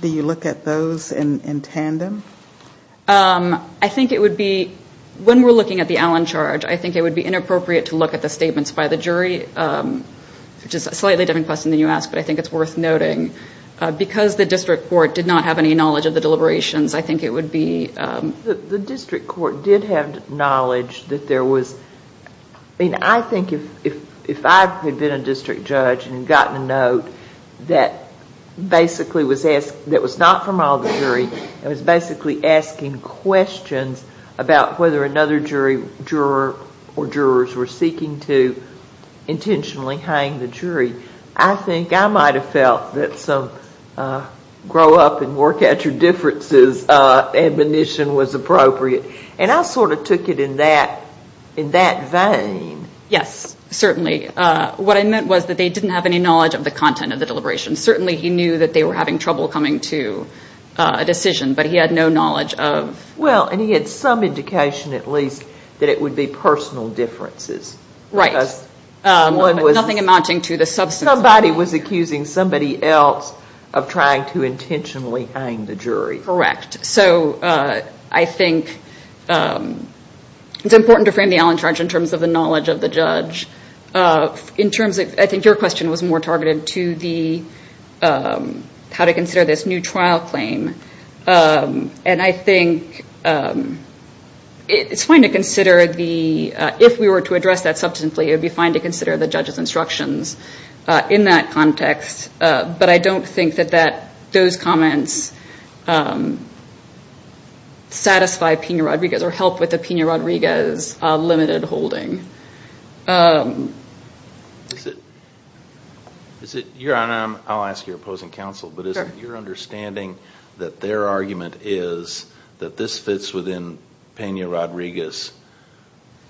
Do you look at those in tandem? I think it would be, when we're looking at the Allen charge, I think it would be inappropriate to look at the statements by the jury, which is a slightly different question than you asked, but I think it's worth noting. Because the district court did not have any knowledge of the deliberations, I think it would be... The district court did have knowledge that there was... I think if I had been a district judge and gotten a note that basically was not from all the jury and was basically asking questions about whether another jury or jurors were seeking to intentionally hang the jury, I think I might have felt that some grow-up-and-work-at-your-differences admonition was appropriate. And I sort of took it in that vein. Yes, certainly. What I meant was that they didn't have any knowledge of the content of the deliberations. Certainly he knew that they were having trouble coming to a decision, but he had no knowledge of... Well, and he had some indication, at least, that it would be personal differences. Right. Nothing amounting to the substance. Somebody was accusing somebody else of trying to intentionally hang the jury. Correct. So I think it's important to frame the Allentraunch in terms of the knowledge of the judge. I think your question was more targeted to how to consider this new trial claim. And I think it's fine to consider the... If we were to address that substantively, it would be fine to consider the judge's instructions in that context. But I don't think that those comments satisfy Pena-Rodriguez or help with the Pena-Rodriguez limited holding. Your Honor, I'll ask your opposing counsel, but is it your understanding that their argument is that this fits within Pena-Rodriguez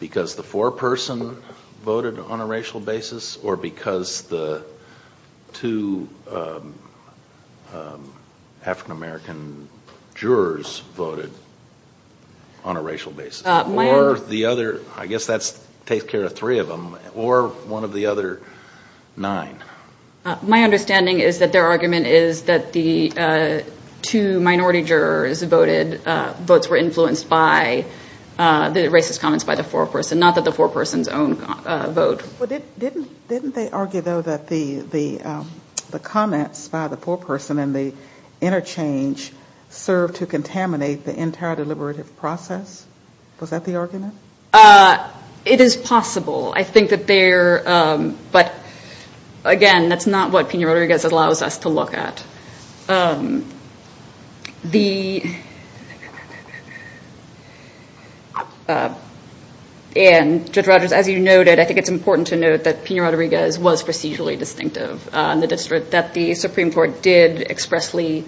because the foreperson voted on a racial basis or because the two African-American jurors voted on a racial basis? I guess that takes care of three of them, or one of the other nine. My understanding is that their argument is that the two minority jurors voted, both were influenced by the racist comments by the foreperson, not that the foreperson's own vote. Didn't they argue, though, that the comments by the foreperson and the interchange served to contaminate the entire deliberative process? Was that the argument? It is possible. I think that there... But, again, that's not what Pena-Rodriguez allows us to look at. The... Judge Rogers, as you noted, I think it's important to note that Pena-Rodriguez was procedurally distinctive. The Supreme Court did expressly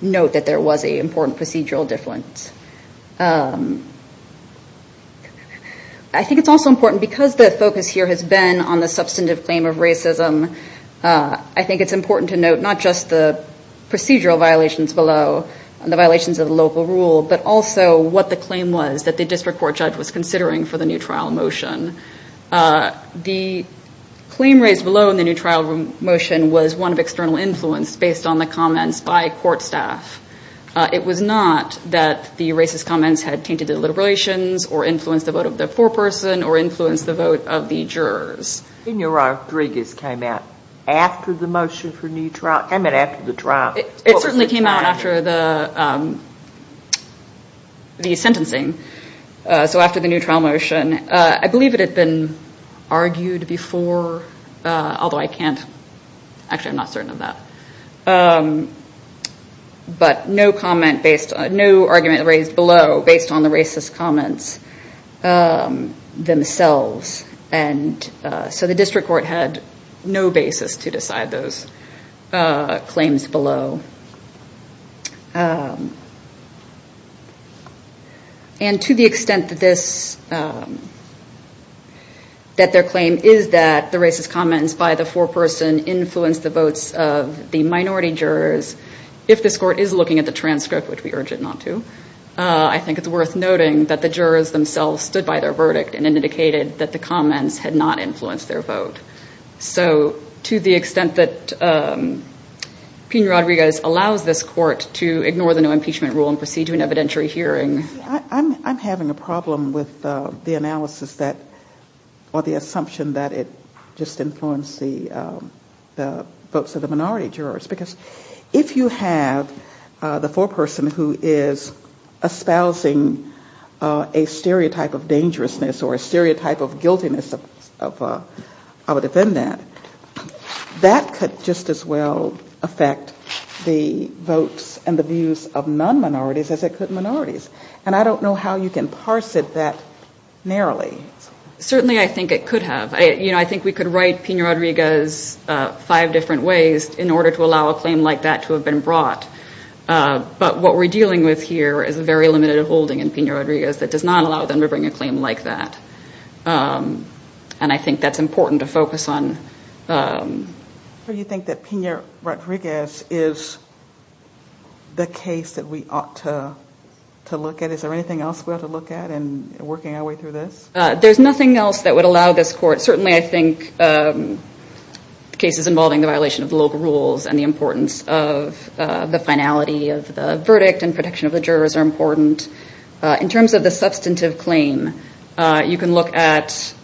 note that there was an important procedural difference. I think it's also important, because the focus here has been on the substantive claim of racism, I think it's important to note not just the procedural violations below, the violations of the local rule, but also what the claim was that the district court judge was considering for the new trial motion. The claim raised below in the new trial motion was one of external influence based on the comments by court staff. It was not that the racist comments had tainted the deliberations or influenced the vote of the foreperson or influenced the vote of the jurors. Pena-Rodriguez came out after the motion for new trial? I mean, after the trial? It certainly came out after the sentencing. So, after the new trial motion. I believe it had been argued before, although I can't... Actually, I'm not certain of that. But no argument raised below based on the racist comments themselves. So the district court had no basis to decide those claims below. And to the extent that their claim is that the racist comments by the foreperson influenced the votes of the minority jurors, if this court is looking at the transcript, which we urge it not to, I think it's worth noting that the jurors themselves stood by their verdict and indicated that the comments had not influenced their vote. So, to the extent that Pena-Rodriguez allows this court to ignore the no-impeachment rule and proceed to an evidentiary hearing... I'm having a problem with the analysis or the assumption that it just influenced the votes of the minority jurors. Because if you have the foreperson who is espousing a stereotype of dangerousness or a stereotype of guiltiness of a defendant, that could just as well affect the votes and the views of non-minorities as it could minorities. And I don't know how you can parse it that narrowly. Certainly, I think it could have. I think we could write Pena-Rodriguez five different ways in order to allow a claim like that to have been brought. But what we're dealing with here is a very limited holding in Pena-Rodriguez that does not allow them to bring a claim like that. And I think that's important to focus on. Do you think that Pena-Rodriguez is the case that we ought to look at? Is there anything else we ought to look at in working our way through this? There's nothing else that would allow this court... Certainly, I think cases involving the violation of local rules and the importance of the finality of the verdict and protection of the jurors are important. In terms of the substantive claim, you can look at...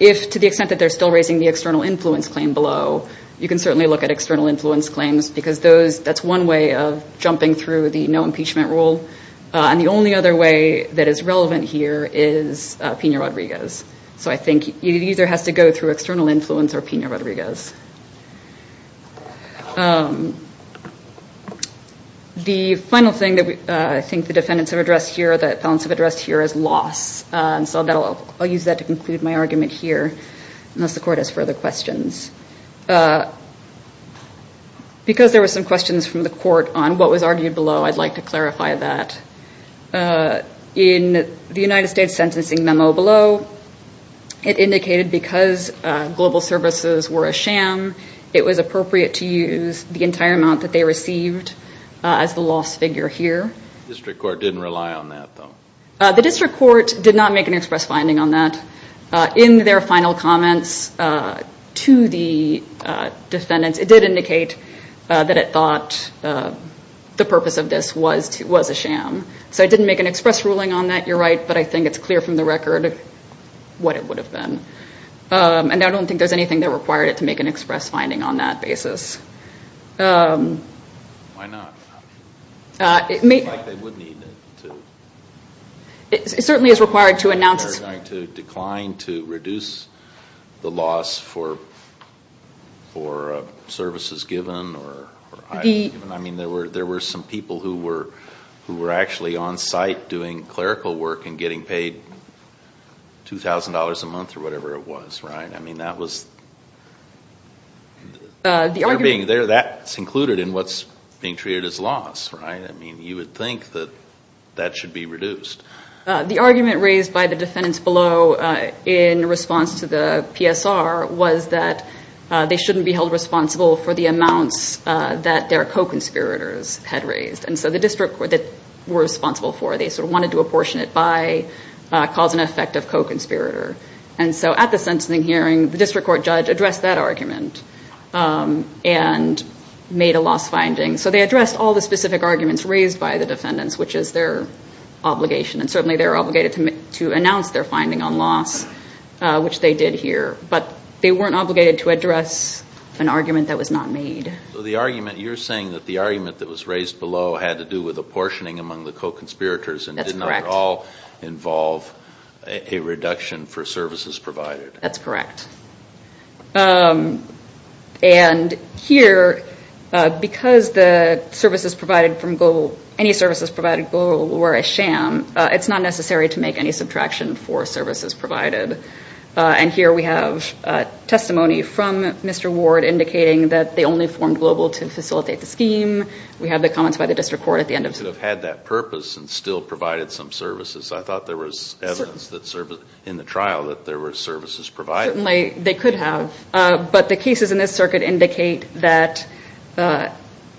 If, to the extent that they're still raising the external influence claim below, you can certainly look at external influence claims because that's one way of jumping through the no-impeachment rule. And the only other way that is relevant here is Pena-Rodriguez. So, I think you either have to go through external influence or Pena-Rodriguez. The final thing that I think the defendants have addressed here, that counsel addressed here, is loss. So, I'll use that to conclude my argument here unless the court has further questions. Because there were some questions from the court on what was argued below, I'd like to clarify that. In the United States sentencing memo below, it indicated because global services were a sham, it was appropriate to use the entire amount that they received as the loss figure here. The district court didn't rely on that, though. The district court did not make an express finding on that. In their final comments to the defendants, it did indicate that it thought the purpose of this was a sham. So, it didn't make an express ruling on that, you're right, but I think it's clear from the record what it would have been. And I don't think there's anything that required it to make an express finding on that basis. Why not? It certainly is required to announce it. To decline, to reduce the loss for services given. I mean, there were some people who were actually on site doing clerical work and getting paid $2,000 a month or whatever it was, right? I mean, that's included in what's being treated as loss, right? I mean, you would think that that should be reduced. The argument raised by the defendants below in response to the PSR was that they shouldn't be held responsible for the amounts that their co-conspirators had raised. And so the district court that they were responsible for, they sort of wanted to apportion it by cause and effect of co-conspirator. And so at the sentencing hearing, the district court judge addressed that argument and made a loss finding. So, they addressed all the specific arguments raised by the defendants, which is their obligation. And certainly they're obligated to announce their finding on loss, which they did here. But they weren't obligated to address an argument that was not made. So, you're saying that the argument that was raised below had to do with apportioning among the co-conspirators and did not at all involve a reduction for services provided. That's correct. And here, because any services provided from Global were a sham, it's not necessary to make any subtraction for services provided. And here we have testimony from Mr. Ward indicating that they only formed Global to facilitate the scheme. We have the comments by the district court at the end. They could have had that purpose and still provided some services. I thought there was evidence in the trial that there were services provided. They could have. But the cases in this circuit indicate that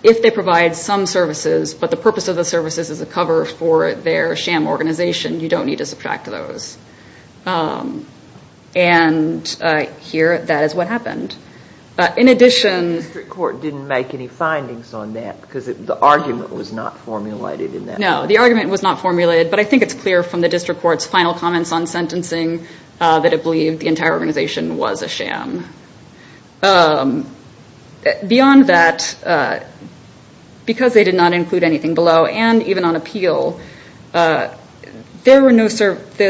if they provide some services, but the purpose of the services is to cover for their sham organization, you don't need to subtract those. And here, that is what happened. The district court didn't make any findings on that because the argument was not formulated in that case. No, the argument was not formulated. But I think it's clear from the district court's final comments on sentencing that it believed the entire organization was a sham. Beyond that, because they did not include anything below, and even on appeal, the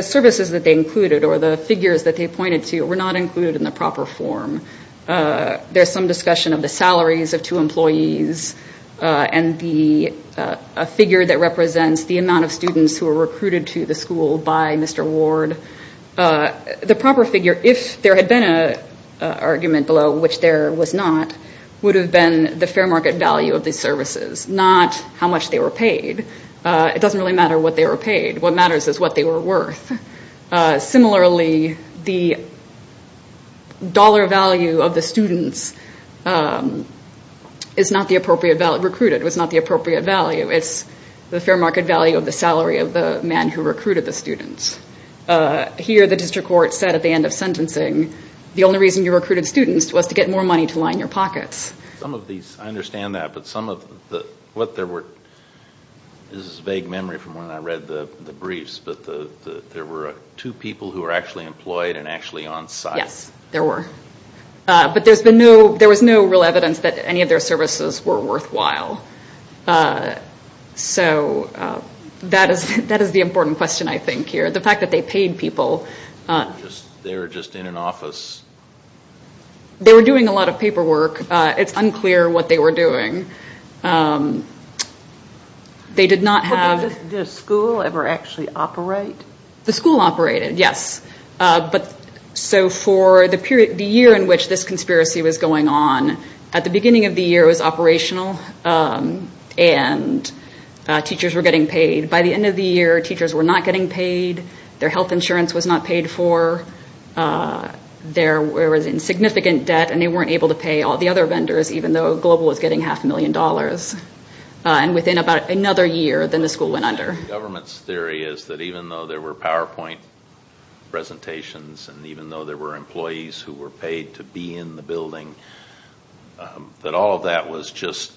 services that they included or the figures that they pointed to were not included in the proper form. There's some discussion of the salaries of two employees and a figure that represents the amount of students who were recruited to the school by Mr. Ward. The proper figure, if there had been an argument below, which there was not, would have been the fair market value of the services, not how much they were paid. It doesn't really matter what they were paid. What matters is what they were worth. Similarly, the dollar value of the students recruited was not the appropriate value. It's the fair market value of the salary of the man who recruited the students. Here, the district court said at the end of sentencing, the only reason you recruited students was to get more money to line your pockets. I understand that, but this is a vague memory from when I read the briefs, but there were two people who were actually employed and actually on site. Yes, there were. But there was no real evidence that any of their services were worthwhile. So that is the important question, I think, here. The fact that they paid people. They were just in an office. They were doing a lot of paperwork. It's unclear what they were doing. Did the school ever actually operate? The school operated, yes. So for the year in which this conspiracy was going on, at the beginning of the year it was operational and teachers were getting paid. By the end of the year, teachers were not getting paid. Their health insurance was not paid for. They were in significant debt and they weren't able to pay all the other vendors, even though Global was getting half a million dollars. And within about another year, then the school went under. The government's theory is that even though there were PowerPoint presentations and even though there were employees who were paid to be in the building, that all of that was just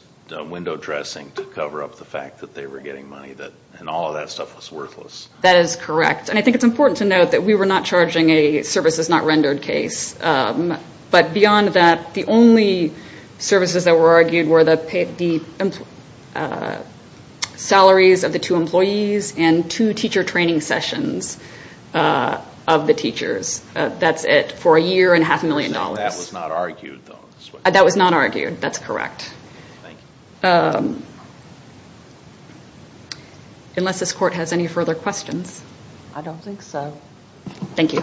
window dressing to cover up the fact that they were getting money and all of that stuff was worthless. That is correct. I think it's important to note that we were not charging a services not rendered case. But beyond that, the only services that were argued were the salaries of the two employees and two teacher training sessions of the teachers. That's it for a year and half a million dollars. That was not argued, though. That was not argued. That's correct. Thank you. Unless this court has any further questions. I don't think so. Thank you.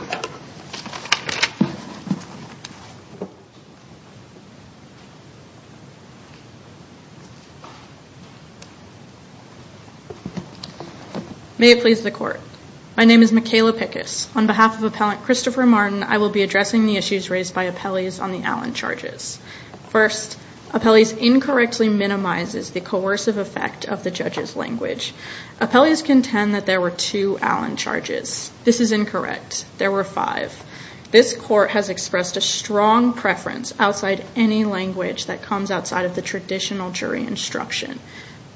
May it please the court. My name is Michaela Pickus. On behalf of appellant Christopher Martin, I will be addressing the issues raised by appellees on the Allen charges. First, appellees incorrectly minimizes the coercive effect of the judge's language. Appellees contend that there were two Allen charges. This is incorrect. There were five. This court has expressed a strong preference outside any language that comes outside of the traditional jury instruction.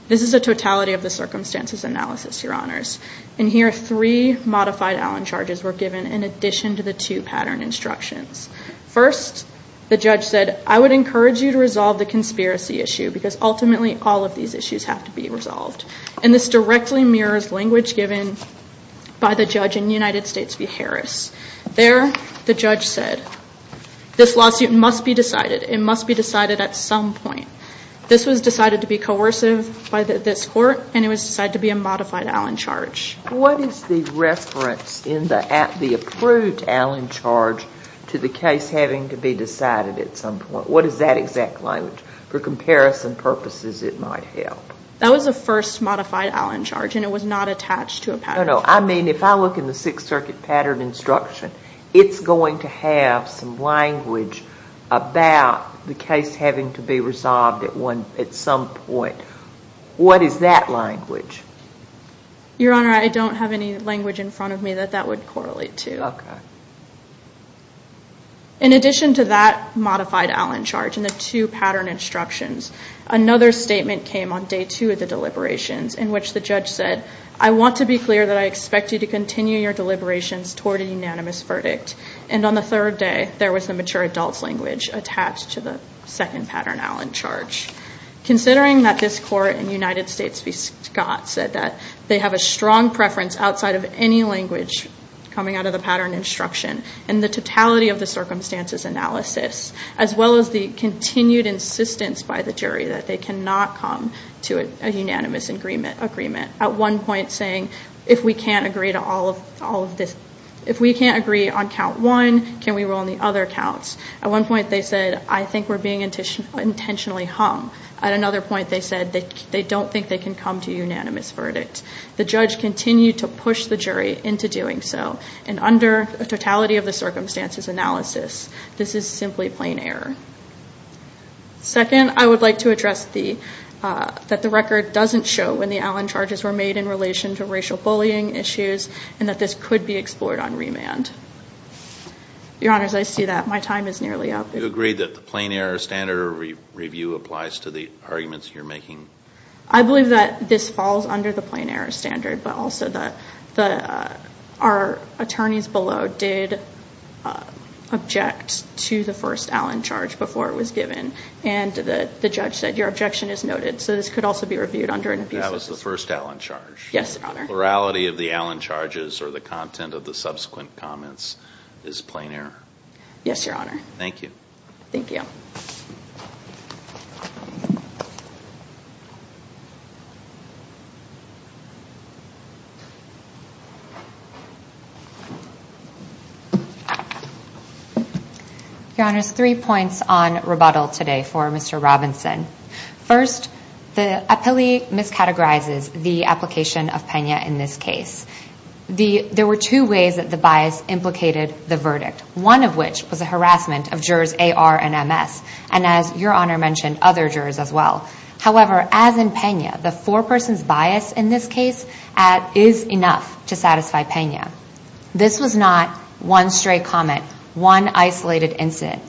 This is a totality of the circumstances analysis, your honors. And here, three modified Allen charges were given in addition to the two pattern instructions. First, the judge said, I would encourage you to resolve the conspiracy issue because ultimately all of these issues have to be resolved. And this directly mirrors language given by the judge in the United States v. Harris. There, the judge said, this lawsuit must be decided. It must be decided at some point. This was decided to be coercive by this court, and it was decided to be a modified Allen charge. What is the reference in the approved Allen charge to the case having to be decided at some point? What is that exact language? For comparison purposes, it might help. That was the first modified Allen charge, and it was not attached to a pattern. No, no. I mean, if I look in the Sixth Circuit pattern instruction, it's going to have some language about the case having to be resolved at some point. What is that language? Your honor, I don't have any language in front of me that that would correlate to. Okay. In addition to that modified Allen charge and the two pattern instructions, another statement came on day two of the deliberations in which the judge said, I want to be clear that I expect you to continue your deliberations toward a unanimous verdict. And on the third day, there was a mature adult language attached to the second pattern Allen charge. Considering that this court in the United States v. Scott said that they have a strong preference outside of any language coming out of the pattern instruction and the totality of the circumstances analysis, as well as the continued insistence by the jury that they cannot come to a unanimous agreement. At one point saying, if we can't agree on count one, can we rule on the other counts? At one point they said, I think we're being intentionally hung. At another point they said they don't think they can come to a unanimous verdict. The judge continued to push the jury into doing so. And under a totality of the circumstances analysis, this is simply plain error. Second, I would like to address that the record doesn't show when the Allen charges were made in relation to racial bullying issues and that this could be explored on remand. Your Honors, I see that my time is nearly up. Do you agree that the plain error standard review applies to the arguments you're making? I believe that this falls under the plain error standard, but also that our attorneys below did object to the first Allen charge before it was given. And the judge said your objection is noted, so this could also be reviewed under review. That was the first Allen charge? Yes, Your Honor. Plurality of the Allen charges or the content of the subsequent comments is plain error? Yes, Your Honor. Thank you. Thank you. Your Honor, three points on rebuttal today for Mr. Robinson. First, the appellee miscategorizes the application of Pena in this case. There were two ways that the bias implicated the verdict, one of which was a harassment of jurors A.R. and M.S., and as Your Honor mentioned, other jurors as well. However, as in Pena, the four-person bias in this case, is enough to satisfy Pena. This was not one stray comment, one isolated incident.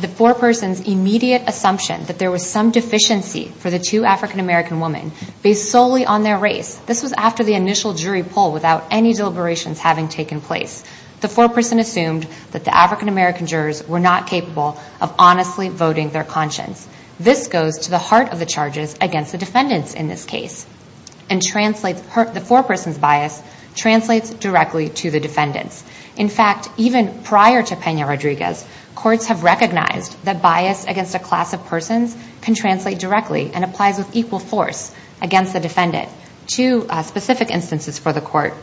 The four-person's immediate assumption that there was some deficiency for the two African-American women based solely on their race, this was after the initial jury poll without any deliberations having taken place. The four-person assumed that the African-American jurors were not capable of honestly voting their conscience. This goes to the heart of the charges against the defendants in this case and the four-person's bias translates directly to the defendants. In fact, even prior to Pena-Rodriguez, courts have recognized that bias against a class of persons can translate directly and applies with equal force against the defendants. Two specific instances for the court.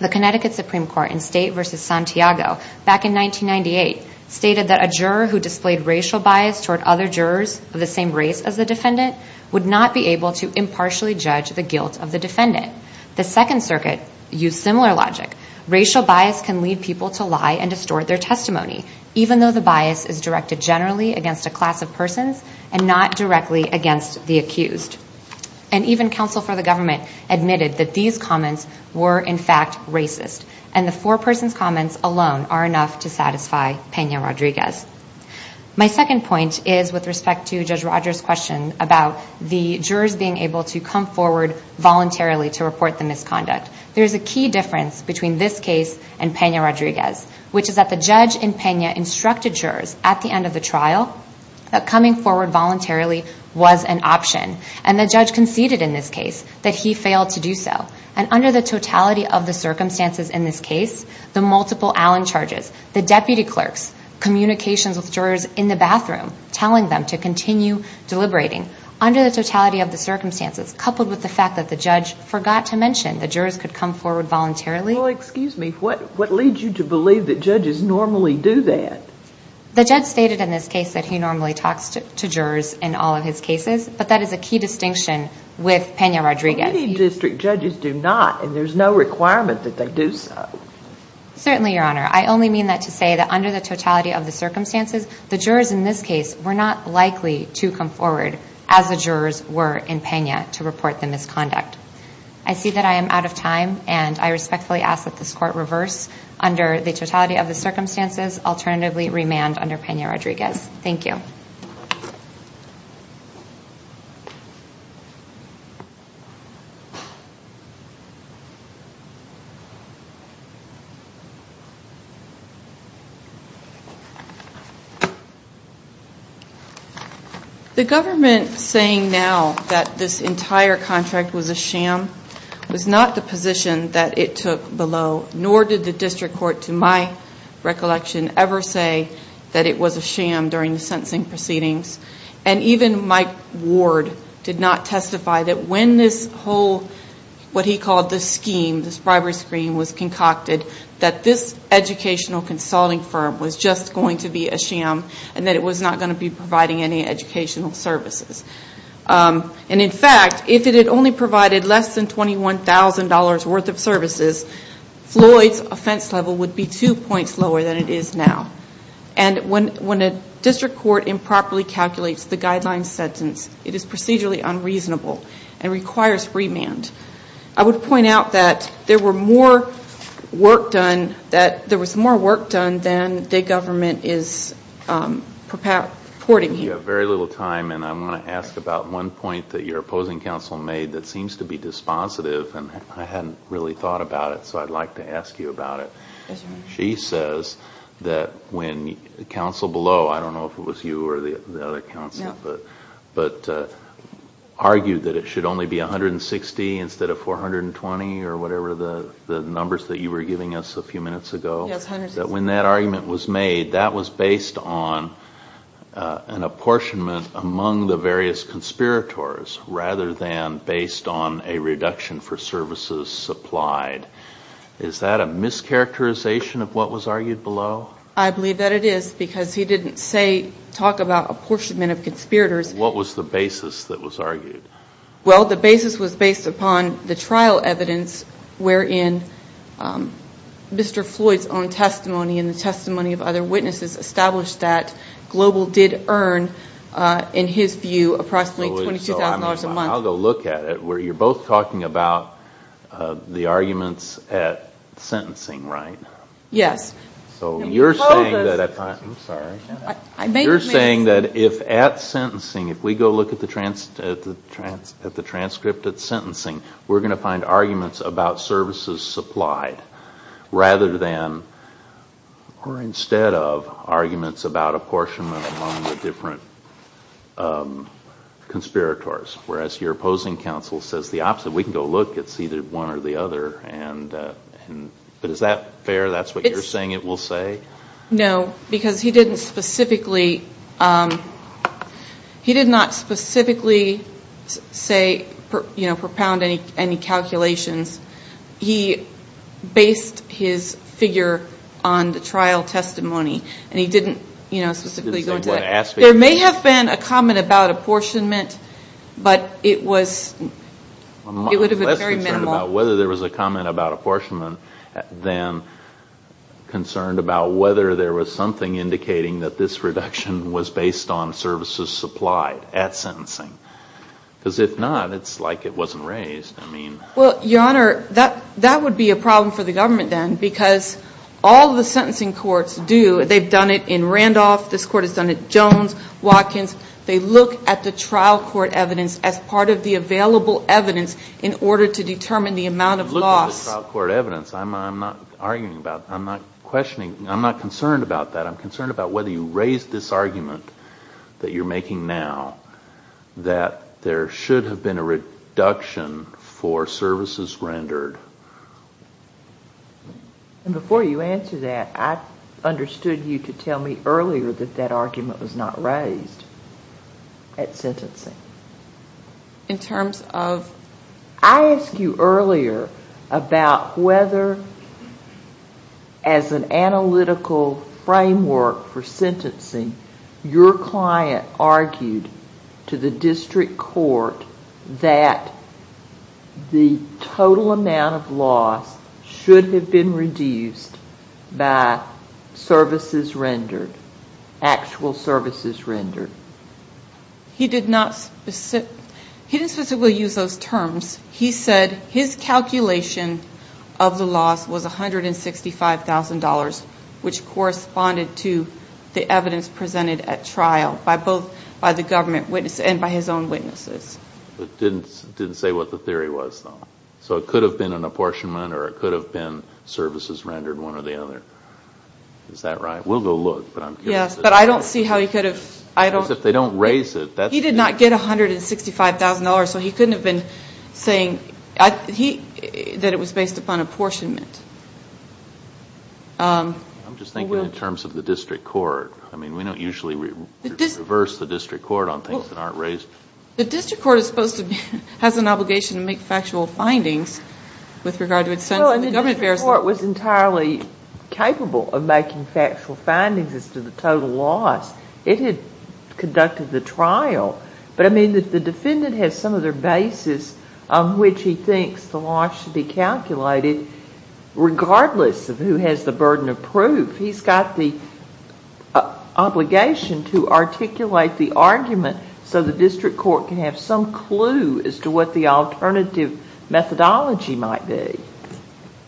The Connecticut Supreme Court in State v. Santiago, back in 1998, stated that a juror who displayed racial bias toward other jurors of the same race as the defendant would not be able to impartially judge the guilt of the defendant. The Second Circuit used similar logic. Racial bias can lead people to lie and distort their testimony, even though the bias is directed generally against a class of persons and not directly against the accused. And even counsel for the government admitted that these comments were in fact racist and the four-person's comments alone are enough to satisfy Pena-Rodriguez. My second point is with respect to Judge Rogers' question about the jurors being able to come forward voluntarily to report the misconduct. There's a key difference between this case and Pena-Rodriguez, which is that the judge in Pena instructed jurors at the end of the trial that coming forward voluntarily was an option and the judge conceded in this case that he failed to do so. And under the totality of the circumstances in this case, the multiple Allen charges, the deputy clerks, communications with jurors in the bathroom, telling them to continue deliberating. Under the totality of the circumstances, coupled with the fact that the judge forgot to mention that jurors could come forward voluntarily. Well, excuse me, what leads you to believe that judges normally do that? The judge stated in this case that he normally talks to jurors in all of his cases, but that is a key distinction with Pena-Rodriguez. Many district judges do not, and there's no requirement that they do so. Certainly, Your Honor. I only mean that to say that under the totality of the circumstances, the jurors in this case were not likely to come forward as the jurors were in Pena to report the misconduct. I see that I am out of time, and I respectfully ask that this Court reverse under the totality of the circumstances, alternatively remand under Pena-Rodriguez. Thank you. Thank you. The government saying now that this entire contract was a sham was not the position that it took below, nor did the district court, to my recollection, ever say that it was a sham during the sentencing proceedings. Even Mike Ward did not testify that when this whole, what he called the scheme, this bribery scheme was concocted, that this educational consulting firm was just going to be a sham and that it was not going to be providing any educational services. In fact, if it had only provided less than $21,000 worth of services, Floyd's offense level would be two points lower than it is now. And when a district court improperly calculates the guideline sentence, it is procedurally unreasonable and requires remand. I would point out that there was more work done than the government is reporting. We have very little time, and I want to ask about one point that your opposing counsel made that seems to be dispositive, and I hadn't really thought about it, so I'd like to ask you about it. She says that when counsel below, I don't know if it was you or the other counsel, but argued that it should only be $160 instead of $420 or whatever the numbers that you were giving us a few minutes ago, that when that argument was made, that was based on an apportionment among the various conspirators rather than based on a reduction for services supplied. Is that a mischaracterization of what was argued below? I believe that it is, because he didn't talk about apportionment of conspirators. What was the basis that was argued? Well, the basis was based upon the trial evidence wherein Mr. Floyd's own testimony and the testimony of other witnesses established that Global did earn, in his view, approximately $22,000 a month. I'll go look at it where you're both talking about the arguments at sentencing, right? Yes. So you're saying that if at sentencing, if we go look at the transcript at sentencing, we're going to find arguments about services supplied rather than or instead of arguments about apportionment among the different conspirators, whereas your opposing counsel says the opposite. We can go look at either one or the other, but is that fair? That's what you're saying it will say? No, because he did not specifically propound any calculations. He based his figure on the trial testimony, and he didn't specifically go to that. There may have been a comment about apportionment, but it was very minimal. I'm less concerned about whether there was a comment about apportionment than concerned about whether there was something indicating that this reduction was based on services supplied at sentencing. Because if not, it's like it wasn't raised. Well, Your Honor, that would be a problem for the government then, because all the sentencing courts do, they've done it in Randolph. This court has done it in Jones, Watkins. They look at the trial court evidence as part of the available evidence in order to determine the amount of loss. Look at the trial court evidence. I'm not arguing about that. I'm not questioning. I'm not concerned about that. I'm concerned about whether you raise this argument that you're making now that there should have been a reduction for services rendered. Before you answer that, I understood you to tell me earlier that that argument was not raised at sentencing. In terms of? I asked you earlier about whether as an analytical framework for sentencing, your client argued to the district court that the total amount of loss should have been reduced by services rendered, actual services rendered. He did not specifically use those terms. He said his calculation of the loss was $165,000, which corresponded to the evidence presented at trial by both the government and by his own witnesses. Didn't say what the theory was, though. So it could have been an apportionment or it could have been services rendered, one or the other. Is that right? We'll go look. Yes, but I don't see how he could have. If they don't raise it. He did not get $165,000, so he couldn't have been saying that it was based upon apportionment. I'm just thinking in terms of the district court. I mean, we don't usually reverse the district court on things that aren't raised. The district court is supposed to have an obligation to make factual findings with regard to its sentencing. The district court was entirely capable of making factual findings as to the total loss. It had conducted the trial. But, I mean, the defendant has some other basis on which he thinks the loss should be calculated, regardless of who has the burden of proof. He's got the obligation to articulate the argument so the district court can have some clue as to what the alternative methodology might be.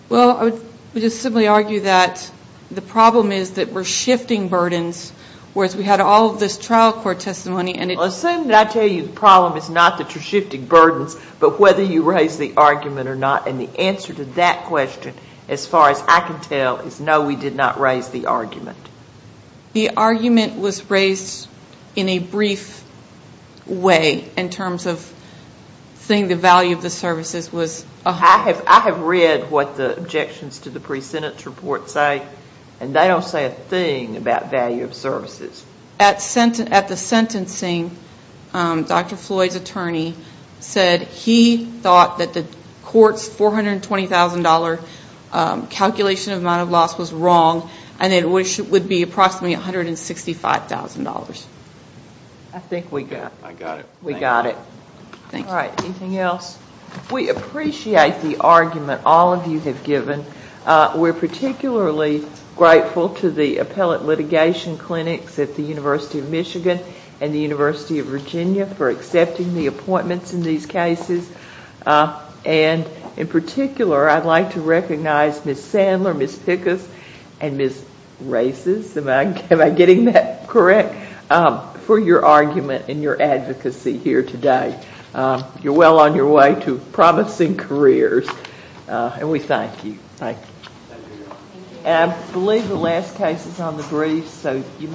Well, I would just simply argue that the problem is that we're shifting burdens, whereas we had all of this trial court testimony. Well, assume that I tell you the problem is not that you're shifting burdens, but whether you raised the argument or not. And the answer to that question, as far as I can tell, is no, we did not raise the argument. The argument was raised in a brief way in terms of saying the value of the services was... I have read what the objections to the pre-sentence report say, and they don't say a thing about value of services. At the sentencing, Dr. Floyd's attorney said he thought that the court's $420,000 calculation amount of loss was wrong, and it would be approximately $165,000. I think we got it. I got it. We got it. All right, anything else? We appreciate the argument all of you have given. We're particularly grateful to the appellate litigation clinics at the University of Michigan and the University of Virginia for accepting the appointments in these cases. And in particular, I'd like to recognize Ms. Sandler, Ms. Pickus, and Ms. Races, am I getting that correct, for your argument and your advocacy here today. You're well on your way to promising careers, and we thank you. Thank you.